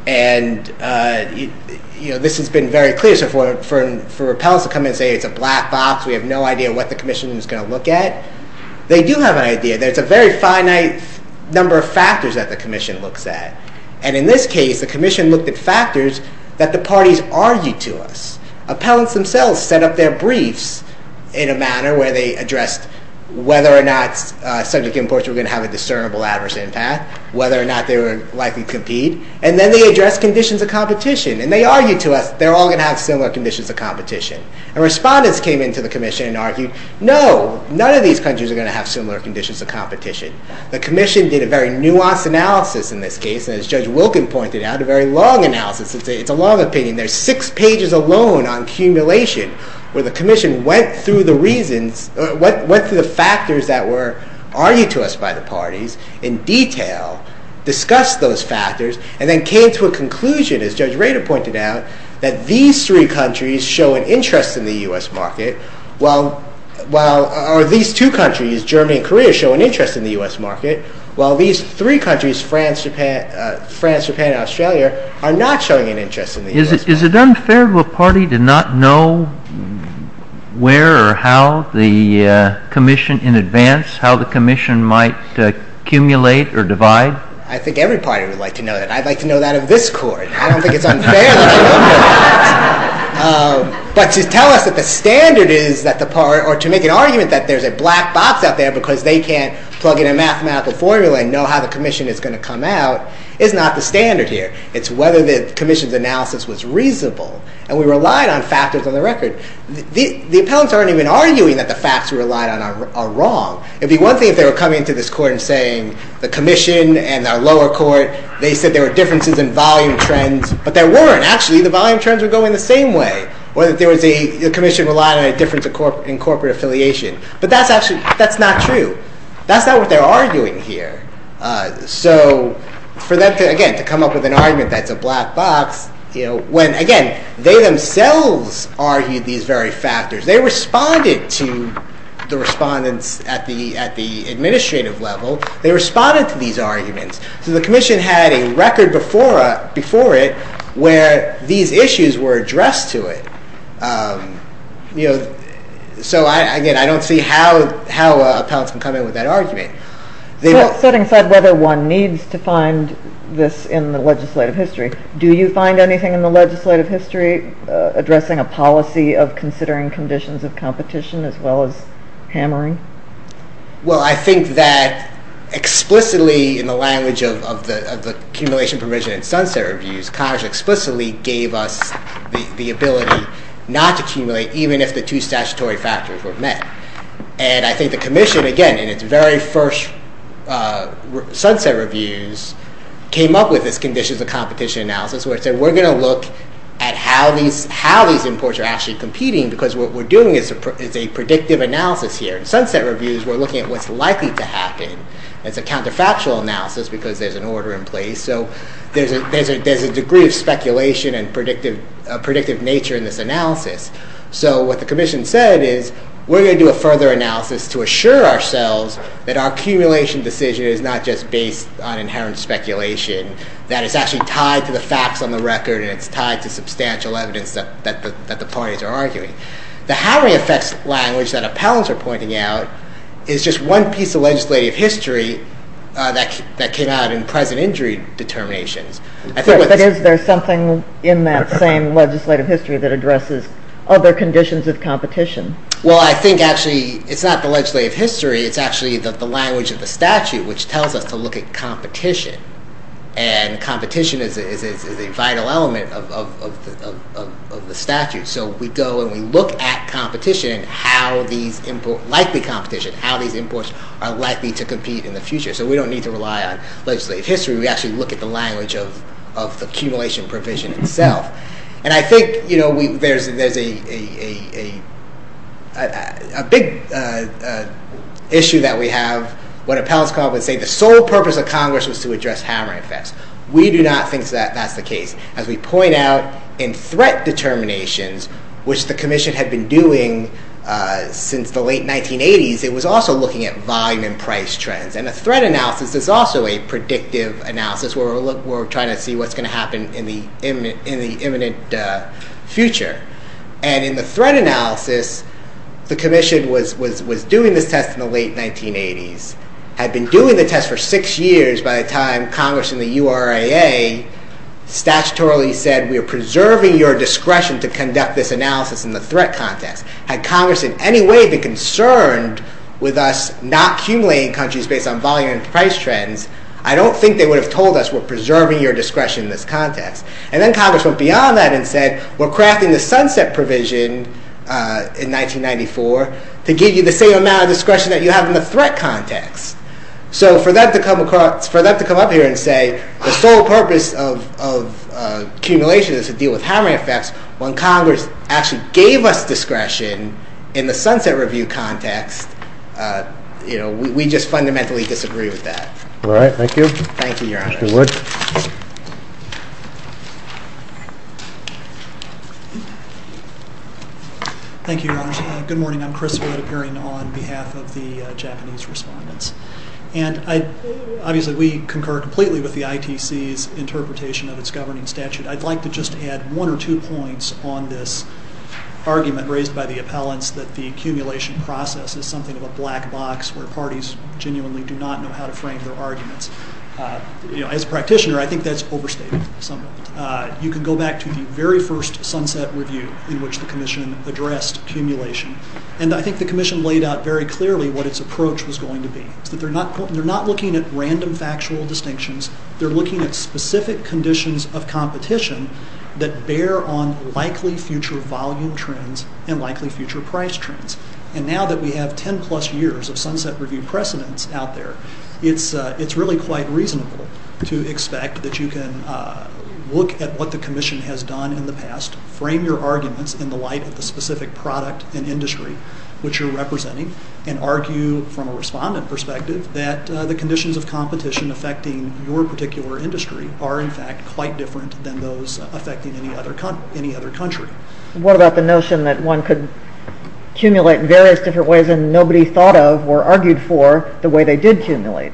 And this has been very clear for appellants to come in and say, it's a black box, we have no idea what the commission is going to look at. They do have an idea. There's a very finite number of factors that the commission looks at. And in this case, the commission looked at factors that the parties argued to us. Appellants themselves set up their briefs in a manner where they addressed whether or not such imports were going to have a discernible adverse impact, whether or not they were likely to compete. And then they addressed conditions of competition. And they argued to us they're all going to have similar conditions of competition. And respondents came into the commission and argued, no, none of these countries are going to have similar conditions of competition. The commission did a very nuanced analysis in this case, and as Judge Wilken pointed out, a very long analysis. It's a long opinion. There's six pages alone on accumulation where the commission went through the reasons, went through the factors that were argued to us by the parties in detail, discussed those factors, and then came to a conclusion, as Judge Rader pointed out, that these three countries show an interest in the U.S. market, while these two countries, Germany and Korea, show an interest in the U.S. market, while these three countries, France, Japan, and Australia, Is it unfair to a party to not know where or how the commission in advance, how the commission might accumulate or divide? I think every party would like to know that. I'd like to know that of this court. I don't think it's unfair. But to tell us what the standard is that the party, or to make an argument that there's a black box out there because they can't plug in a mouth of formula and know how the commission is going to come out is not the standard here. It's whether the commission's analysis was reasonable. And we relied on factors on the record. The appellants aren't even arguing that the facts we relied on are wrong. It'd be one thing if they were coming to this court and saying, the commission and our lower court, they said there were differences in volume trends, but there weren't. Actually, the volume trends were going the same way. Whether there was a commission relying on a difference in corporate affiliation. But that's not true. That's not what they're arguing here. So for them to, again, to come up with an argument that there's a black box, when, again, they themselves argued these very factors. They responded to the respondents at the administrative level. They responded to these arguments. So the commission had a record before it where these issues were addressed to it. So, again, I don't see how appellants can come in with that argument. Setting aside whether one needs to find this in the legislative history, do you find anything in the legislative history addressing a policy of considering conditions of competition as well as hammering? Well, I think that explicitly in the language of the accumulation provision in Sunset Reviews, CAJA explicitly gave us the ability not to accumulate even if the two statutory factors were met. And I think the commission, again, in its very first Sunset Reviews, came up with this conditions of competition analysis where it said, we're going to look at how these imports are actually competing because what we're doing is a predictive analysis here. In Sunset Reviews, we're looking at what's likely to happen. It's a counterfactual analysis because there's an order in place. So what the commission said is, we're going to do a further analysis to assure ourselves that our accumulation decision is not just based on inherent speculation, that it's actually tied to the facts on the record and it's tied to substantial evidence that the parties are arguing. The how they affect language that appellants are pointing out is just one piece of legislative history that came out in pleasant injury determination. But is there something in that same legislative history that addresses other conditions of competition? Well, I think, actually, it's not the legislative history. It's actually the language of the statute which tells us to look at competition. And competition is a vital element of the statute. So we go and we look at competition, likely competition, how these imports are likely to compete in the future. So we don't need to rely on legislative history. We actually look at the language of accumulation provision itself. And I think there's a big issue that we have when appellants come up and say, the sole purpose of Congress is to address hammering effects. We do not think that that's the case. As we point out in threat determinations, which the commission had been doing since the late 1980s, it was also looking at volume and price trends. And a threat analysis is also a predictive analysis where we're trying to see what's going to happen in the imminent future. And in the threat analysis, the commission was doing the test in the late 1980s, had been doing the test for six years by the time Congress and the URAA statutorily said, we are preserving your discretion to conduct this analysis in the threat context. Had Congress in any way been concerned with us not accumulating countries based on volume and price trends, I don't think they would have told us we're preserving your discretion in this context. And then Congress went beyond that and said, we're crafting the sunset provision in 1994 to give you the same amount of discretion that you have in the threat context. So for them to come up here and say, the sole purpose of accumulation is to deal with hammering effects, when Congress actually gave us discretion in the sunset review context, you know, we just fundamentally disagree with that. All right, thank you. Thank you, Your Honor. Thank you, Wood. Thank you, Your Honor. Good morning, I'm Chris Wood of Harington Hall on behalf of the Japanese respondents. And obviously we concur completely with the ITC's interpretation of its governing statute. I'd like to just add one or two points on this argument raised by the appellants that the accumulation process is something of a black box where parties genuinely do not know how to frame their arguments. You know, as a practitioner, I think that's overstated. You can go back to the very first sunset review in which the commission addressed accumulation. And I think the commission laid out very clearly what its approach was going to be. They're not looking at random factual distinctions. They're looking at specific conditions of competition that bear on likely future volume trends and likely future price trends. And now that we have ten plus years of sunset review precedents out there, it's really quite reasonable to expect that you can look at what the commission has done in the past, frame your arguments in the light of the specific product and industry which you're representing, and argue from a respondent perspective that the conditions of competition affecting your particular industry are in fact quite different than those affecting any other country. What about the notion that one could accumulate in various different ways and nobody thought of or argued for the way they did accumulate?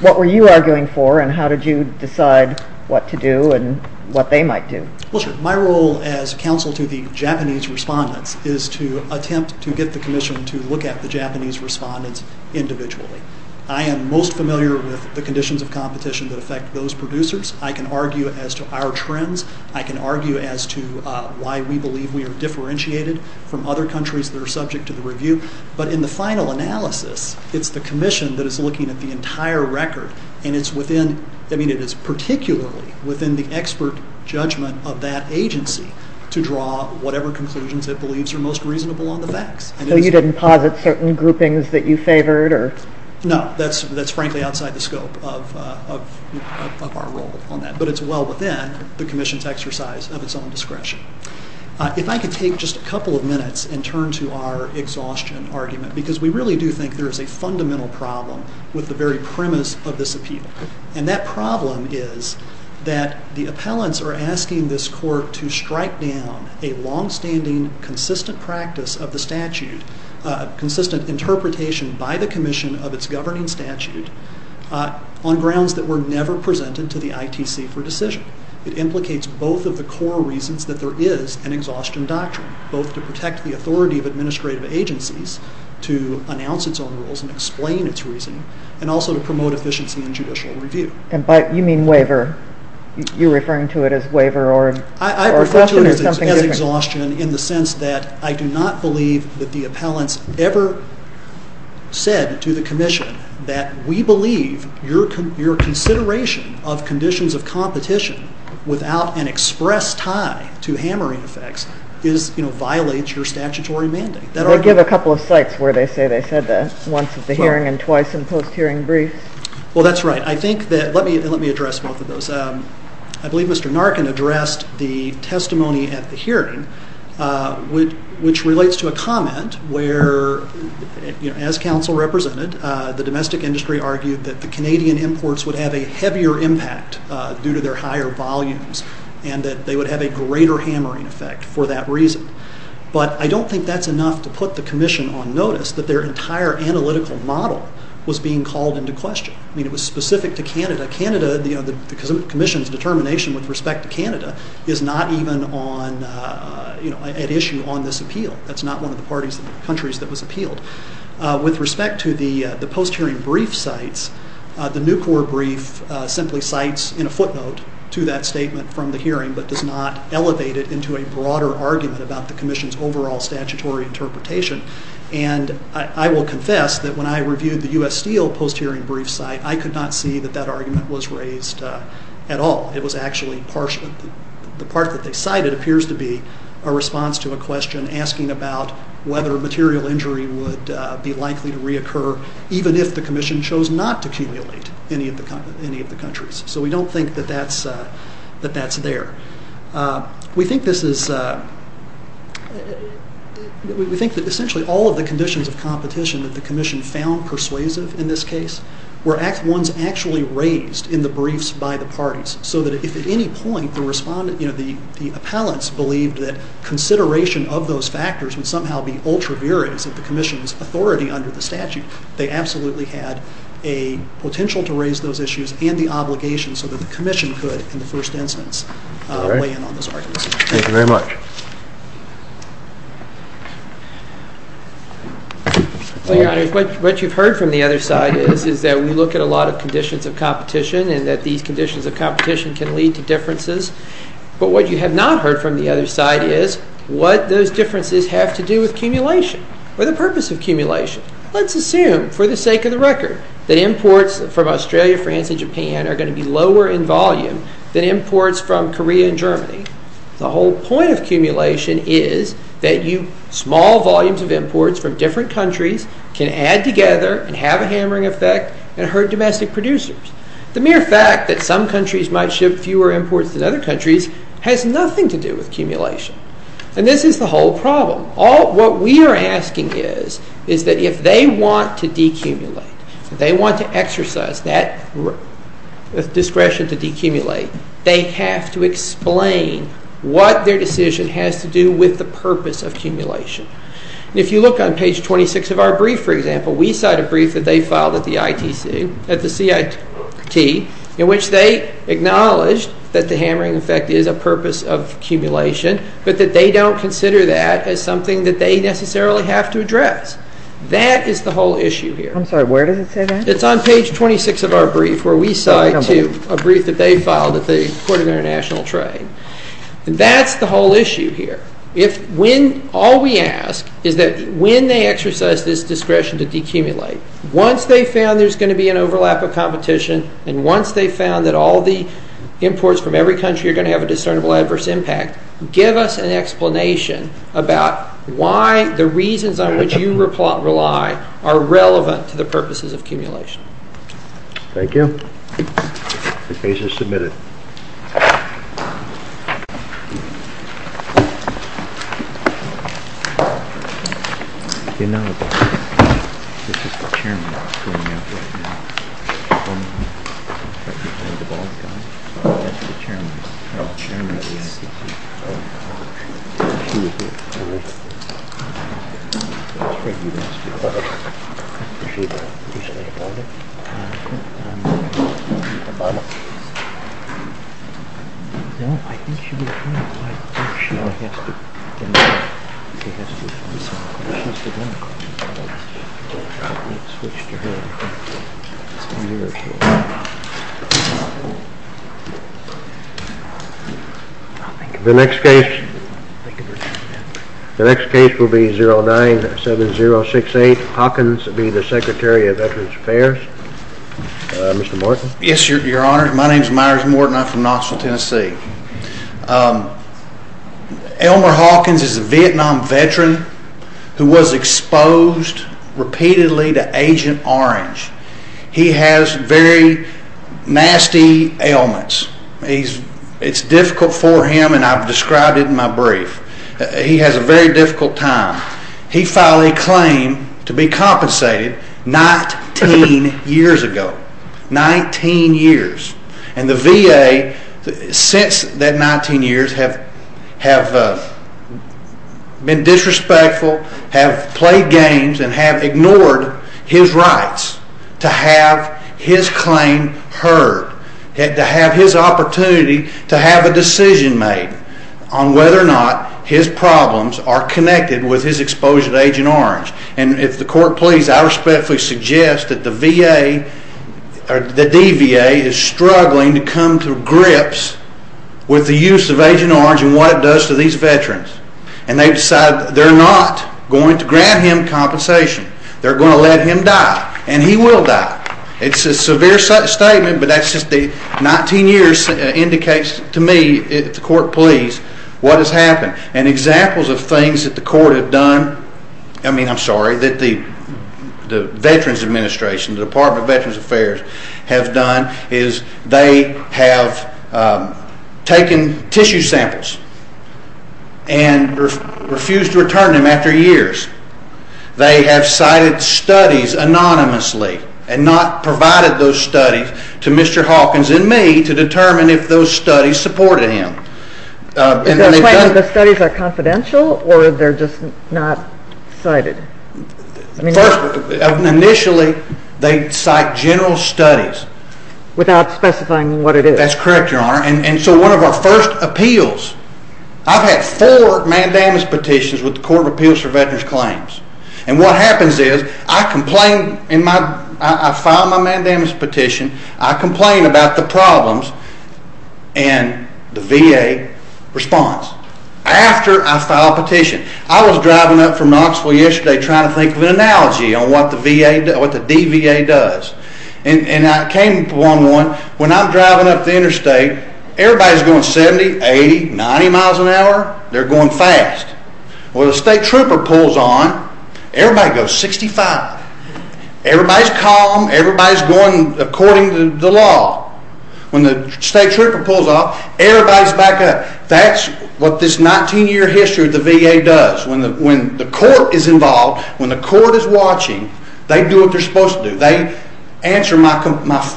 What were you arguing for and how did you decide what to do and what they might do? Well, sir, my role as counsel to the Japanese respondents is to attempt to get the commission to look at the Japanese respondents individually. I am most familiar with the conditions of competition that affect those producers. I can argue as to our trends. I can argue as to why we believe we are differentiated from other countries that are subject to the review. But in the final analysis, it's the commission that is looking at the entire record, and it is particularly within the expert judgment of that agency to draw whatever conclusions it believes are most reasonable on the facts. So you didn't posit certain groupings that you favored? No, that's frankly outside the scope of our role on that, but it's well within the commission's exercise of its own discretion. If I could take just a couple of minutes and turn to our exhaustion argument, because we really do think there is a fundamental problem with the very premise of this appeal, and that problem is that the appellants are asking this court to strike down a longstanding, consistent practice of the statute, consistent interpretation by the commission of its governing statute on grounds that were never presented to the ITC for decision. It implicates both of the core reasons that there is an exhaustion doctrine, both to protect the authority of administrative agencies to announce its own rules and explain its reason, and also to promote efficiency in judicial review. You mean waiver? You're referring to it as waiver or exhaustion? I'm referring to it as exhaustion in the sense that I do not believe that the appellants ever said to the commission that we believe your consideration of conditions of competition without an express tie to hammering effects violates your statutory mandate. I'll give a couple of sites where they say they said that, once at the hearing and twice in post-hearing brief. Well, that's right. Let me address both of those. I believe Mr. Narkin addressed the testimony at the hearing, which relates to a comment where, as counsel represented, the domestic industry argued that the Canadian imports would have a heavier impact due to their higher volumes and that they would have a greater hammering effect for that reason. But I don't think that's enough to put the commission on notice that their entire analytical model was being called into question. I mean, it was specific to Canada. Canada, the commission's determination with respect to Canada, is not even an issue on this appeal. That's not one of the countries that was appealed. With respect to the post-hearing brief sites, the Nucor brief simply cites in a footnote to that statement from the hearing but does not elevate it into a broader argument about the commission's overall statutory interpretation. And I will confess that when I reviewed the U.S. Steel post-hearing brief site, I could not see that that argument was raised at all. It was actually the part that they cited appears to be a response to a question asking about whether material injury would be likely to reoccur even if the commission chose not to accumulate in any of the countries. So we don't think that that's there. We think that essentially all of the conditions of competition that the commission found persuasive in this case were ones actually raised in the briefs by the parties. So that if at any point the appellants believed that consideration of those factors would somehow be ultra-variant of the commission's authority under the statute, they absolutely had a potential to raise those issues in the obligation so that the commission could in the first instance weigh in on this argument. Thank you very much. What you've heard from the other side is that we look at a lot of conditions of competition and that these conditions of competition can lead to differences. But what you have not heard from the other side is what those differences have to do with accumulation or the purpose of accumulation. Let's assume for the sake of the record that imports from Australia, France, and Japan are going to be lower in volume than imports from Korea and Germany. The whole point of accumulation is that small volumes of imports from different countries can add together and have a hammering effect and hurt domestic producers. The mere fact that some countries might ship fewer imports than other countries has nothing to do with accumulation. And this is the whole problem. What we are asking is that if they want to de-accumulate, if they want to exercise that discretion to de-accumulate, they have to explain what their decision has to do with the purpose of accumulation. If you look on page 26 of our brief, for example, we cite a brief that they filed at the CIT in which they acknowledge that the hammering effect is a purpose of accumulation but that they don't consider that as something that they necessarily have to address. That is the whole issue here. I'm sorry, where did you say that? It's on page 26 of our brief where we cite a brief that they filed at the Court of International Trade. That's the whole issue here. All we ask is that when they exercise this discretion to de-accumulate, once they've found there's going to be an overlap of competition and once they've found that all the imports from every country are going to have a discernible adverse impact, give us an explanation about why the reasons on which you rely are relevant to the purposes of accumulation. Thank you. The case is submitted. Thank you. Thank you. The next case will be 097068. Hawkins will be the Secretary of Veterans Affairs. Mr. Morton. Yes, Your Honor. My name is Myers Morton. I'm from Knoxville, Tennessee. Elmer Hawkins is a Vietnam veteran who was exposed repeatedly to Agent Orange. He has very nasty ailments. It's difficult for him, and I've described it in my brief. He has a very difficult time. He filed a claim to be compensated 19 years ago, 19 years. And the VA, since that 19 years, have been disrespectful, have played games, and have ignored his rights to have his claim heard, to have his opportunity to have a decision made on whether or not his problems are connected with his exposure to Agent Orange. And if the Court please, I respectfully suggest that the VA or the DVA is struggling to come to grips with the use of Agent Orange and what it does to these veterans. And they decide they're not going to grant him compensation. They're going to let him die, and he will die. It's a severe statement, but that's just the 19 years indicates to me, if the Court please, what has happened. And examples of things that the Court have done, I mean, I'm sorry, that the Veterans Administration, the Department of Veterans Affairs, have done is they have taken tissue samples and refused to return them after years. They have cited studies anonymously and not provided those studies to Mr. Hawkins and me to determine if those studies supported him. Is the claim that the studies are confidential, or they're just not cited? First, initially, they cite general studies. Without specifying what it is? That's correct, Your Honor. And so one of our first appeals, I've had four mandamus petitions with the Court of Appeals for Veterans Claims. And what happens is I file my mandamus petition, I complain about the problems, and the VA responds. After I file a petition. I was driving up from Knoxville yesterday trying to think of an analogy on what the DVA does. And I came to 1-1. When I'm driving up the interstate, everybody's going 70, 80, 90 miles an hour. They're going fast. When the state trooper pulls on, everybody goes 65. Everybody's calm. Everybody's going according to the law. When the state trooper pulls off, everybody's back up. That's what this 19-year history of the VA does. When the court is involved, when the court is watching, they do what they're supposed to do. They answer my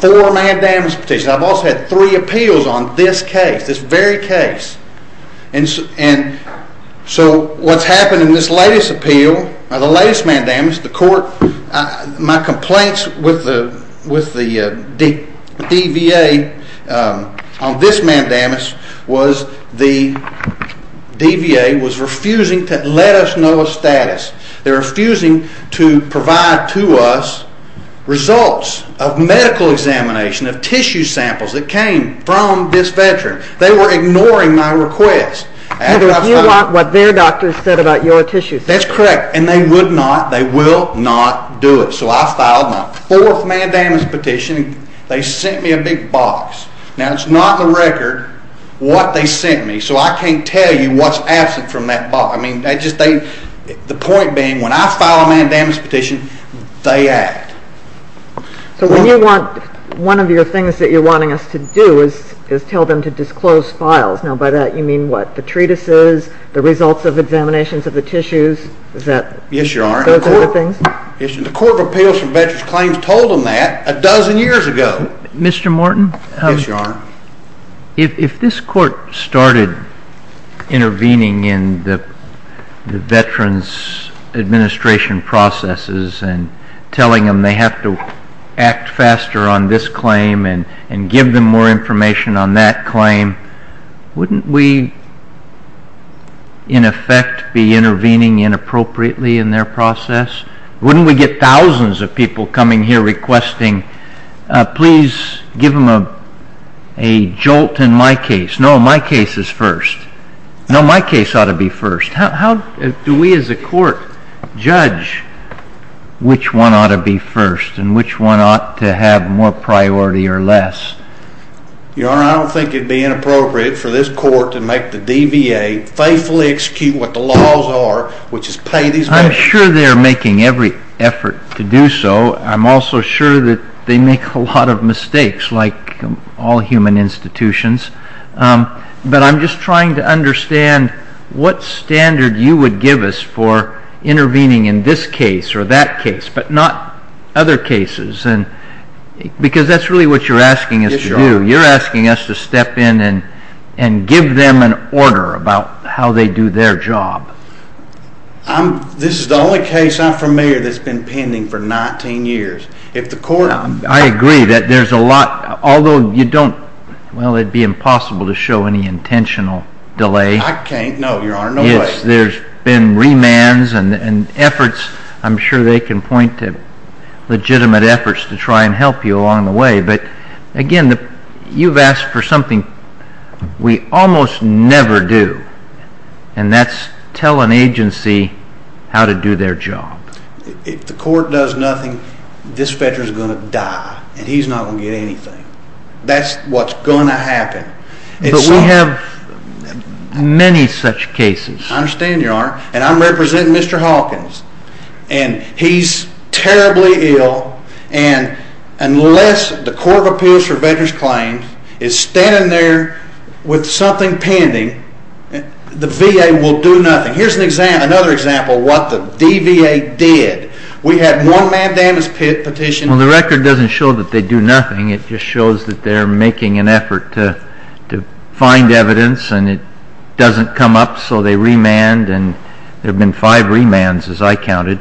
four mandamus petitions. I've also had three appeals on this case, this very case. And so what's happened in this latest appeal, the latest mandamus, the court, my complaints with the DVA on this mandamus was the DVA was refusing to let us know a status. They're refusing to provide to us results of medical examination, of tissue samples that came from this veteran. They were ignoring my request. Because you want what their doctors said about your tissues. That's correct. And they would not, they will not do it. So I filed my fourth mandamus petition. They sent me a big box. Now, it's not the record what they sent me, so I can't tell you what's absent from that box. I mean, that just ain't the point being when I file a mandamus petition, they act. So when you want, one of your things that you're wanting us to do is tell them to disclose files. Now, by that, you mean what? The treatises, the results of examinations of the tissues, is that? Yes, Your Honor. Those other things? The court of appeals for veterans claims told them that a dozen years ago. Mr. Morton? Yes, Your Honor. If this court started intervening in the veterans' administration processes and telling them they have to act faster on this claim and give them more information on that claim, wouldn't we, in effect, be intervening inappropriately in their process? Wouldn't we get thousands of people coming here requesting, please give them a jolt in my case. No, my case is first. No, my case ought to be first. How do we, as a court, judge which one ought to be first and which one ought to have more priority or less? Your Honor, I don't think it would be inappropriate for this court to make the DVA faithfully execute what the laws are, which is pay these men. I'm sure they're making every effort to do so. I'm also sure that they make a lot of mistakes, like all human institutions. But I'm just trying to understand what standard you would give us for intervening in this case or that case, but not other cases, because that's really what you're asking us to do. You're asking us to step in and give them an order about how they do their job. This is the only case I'm familiar that's been pending for 19 years. I agree that there's a lot, although you don't, well, it'd be impossible to show any intentional delay. I can't, no, Your Honor, no way. There's been remands and efforts. I'm sure they can point to legitimate efforts to try and help you along the way. But, again, you've asked for something we almost never do, and that's tell an agency how to do their job. If the court does nothing, this veteran's going to die, and he's not going to get anything. That's what's going to happen. But we have many such cases. I understand, Your Honor, and I'm representing Mr. Hawkins, and he's terribly ill, and unless the Court of Appeals for Veterans' Claims is standing there with something pending, the VA will do nothing. Here's another example of what the DVA did. We have no man-damaged petitions. Well, the record doesn't show that they do nothing. It just shows that they're making an effort to find evidence, and it doesn't come up, so they remand, and there have been five remands, as I counted.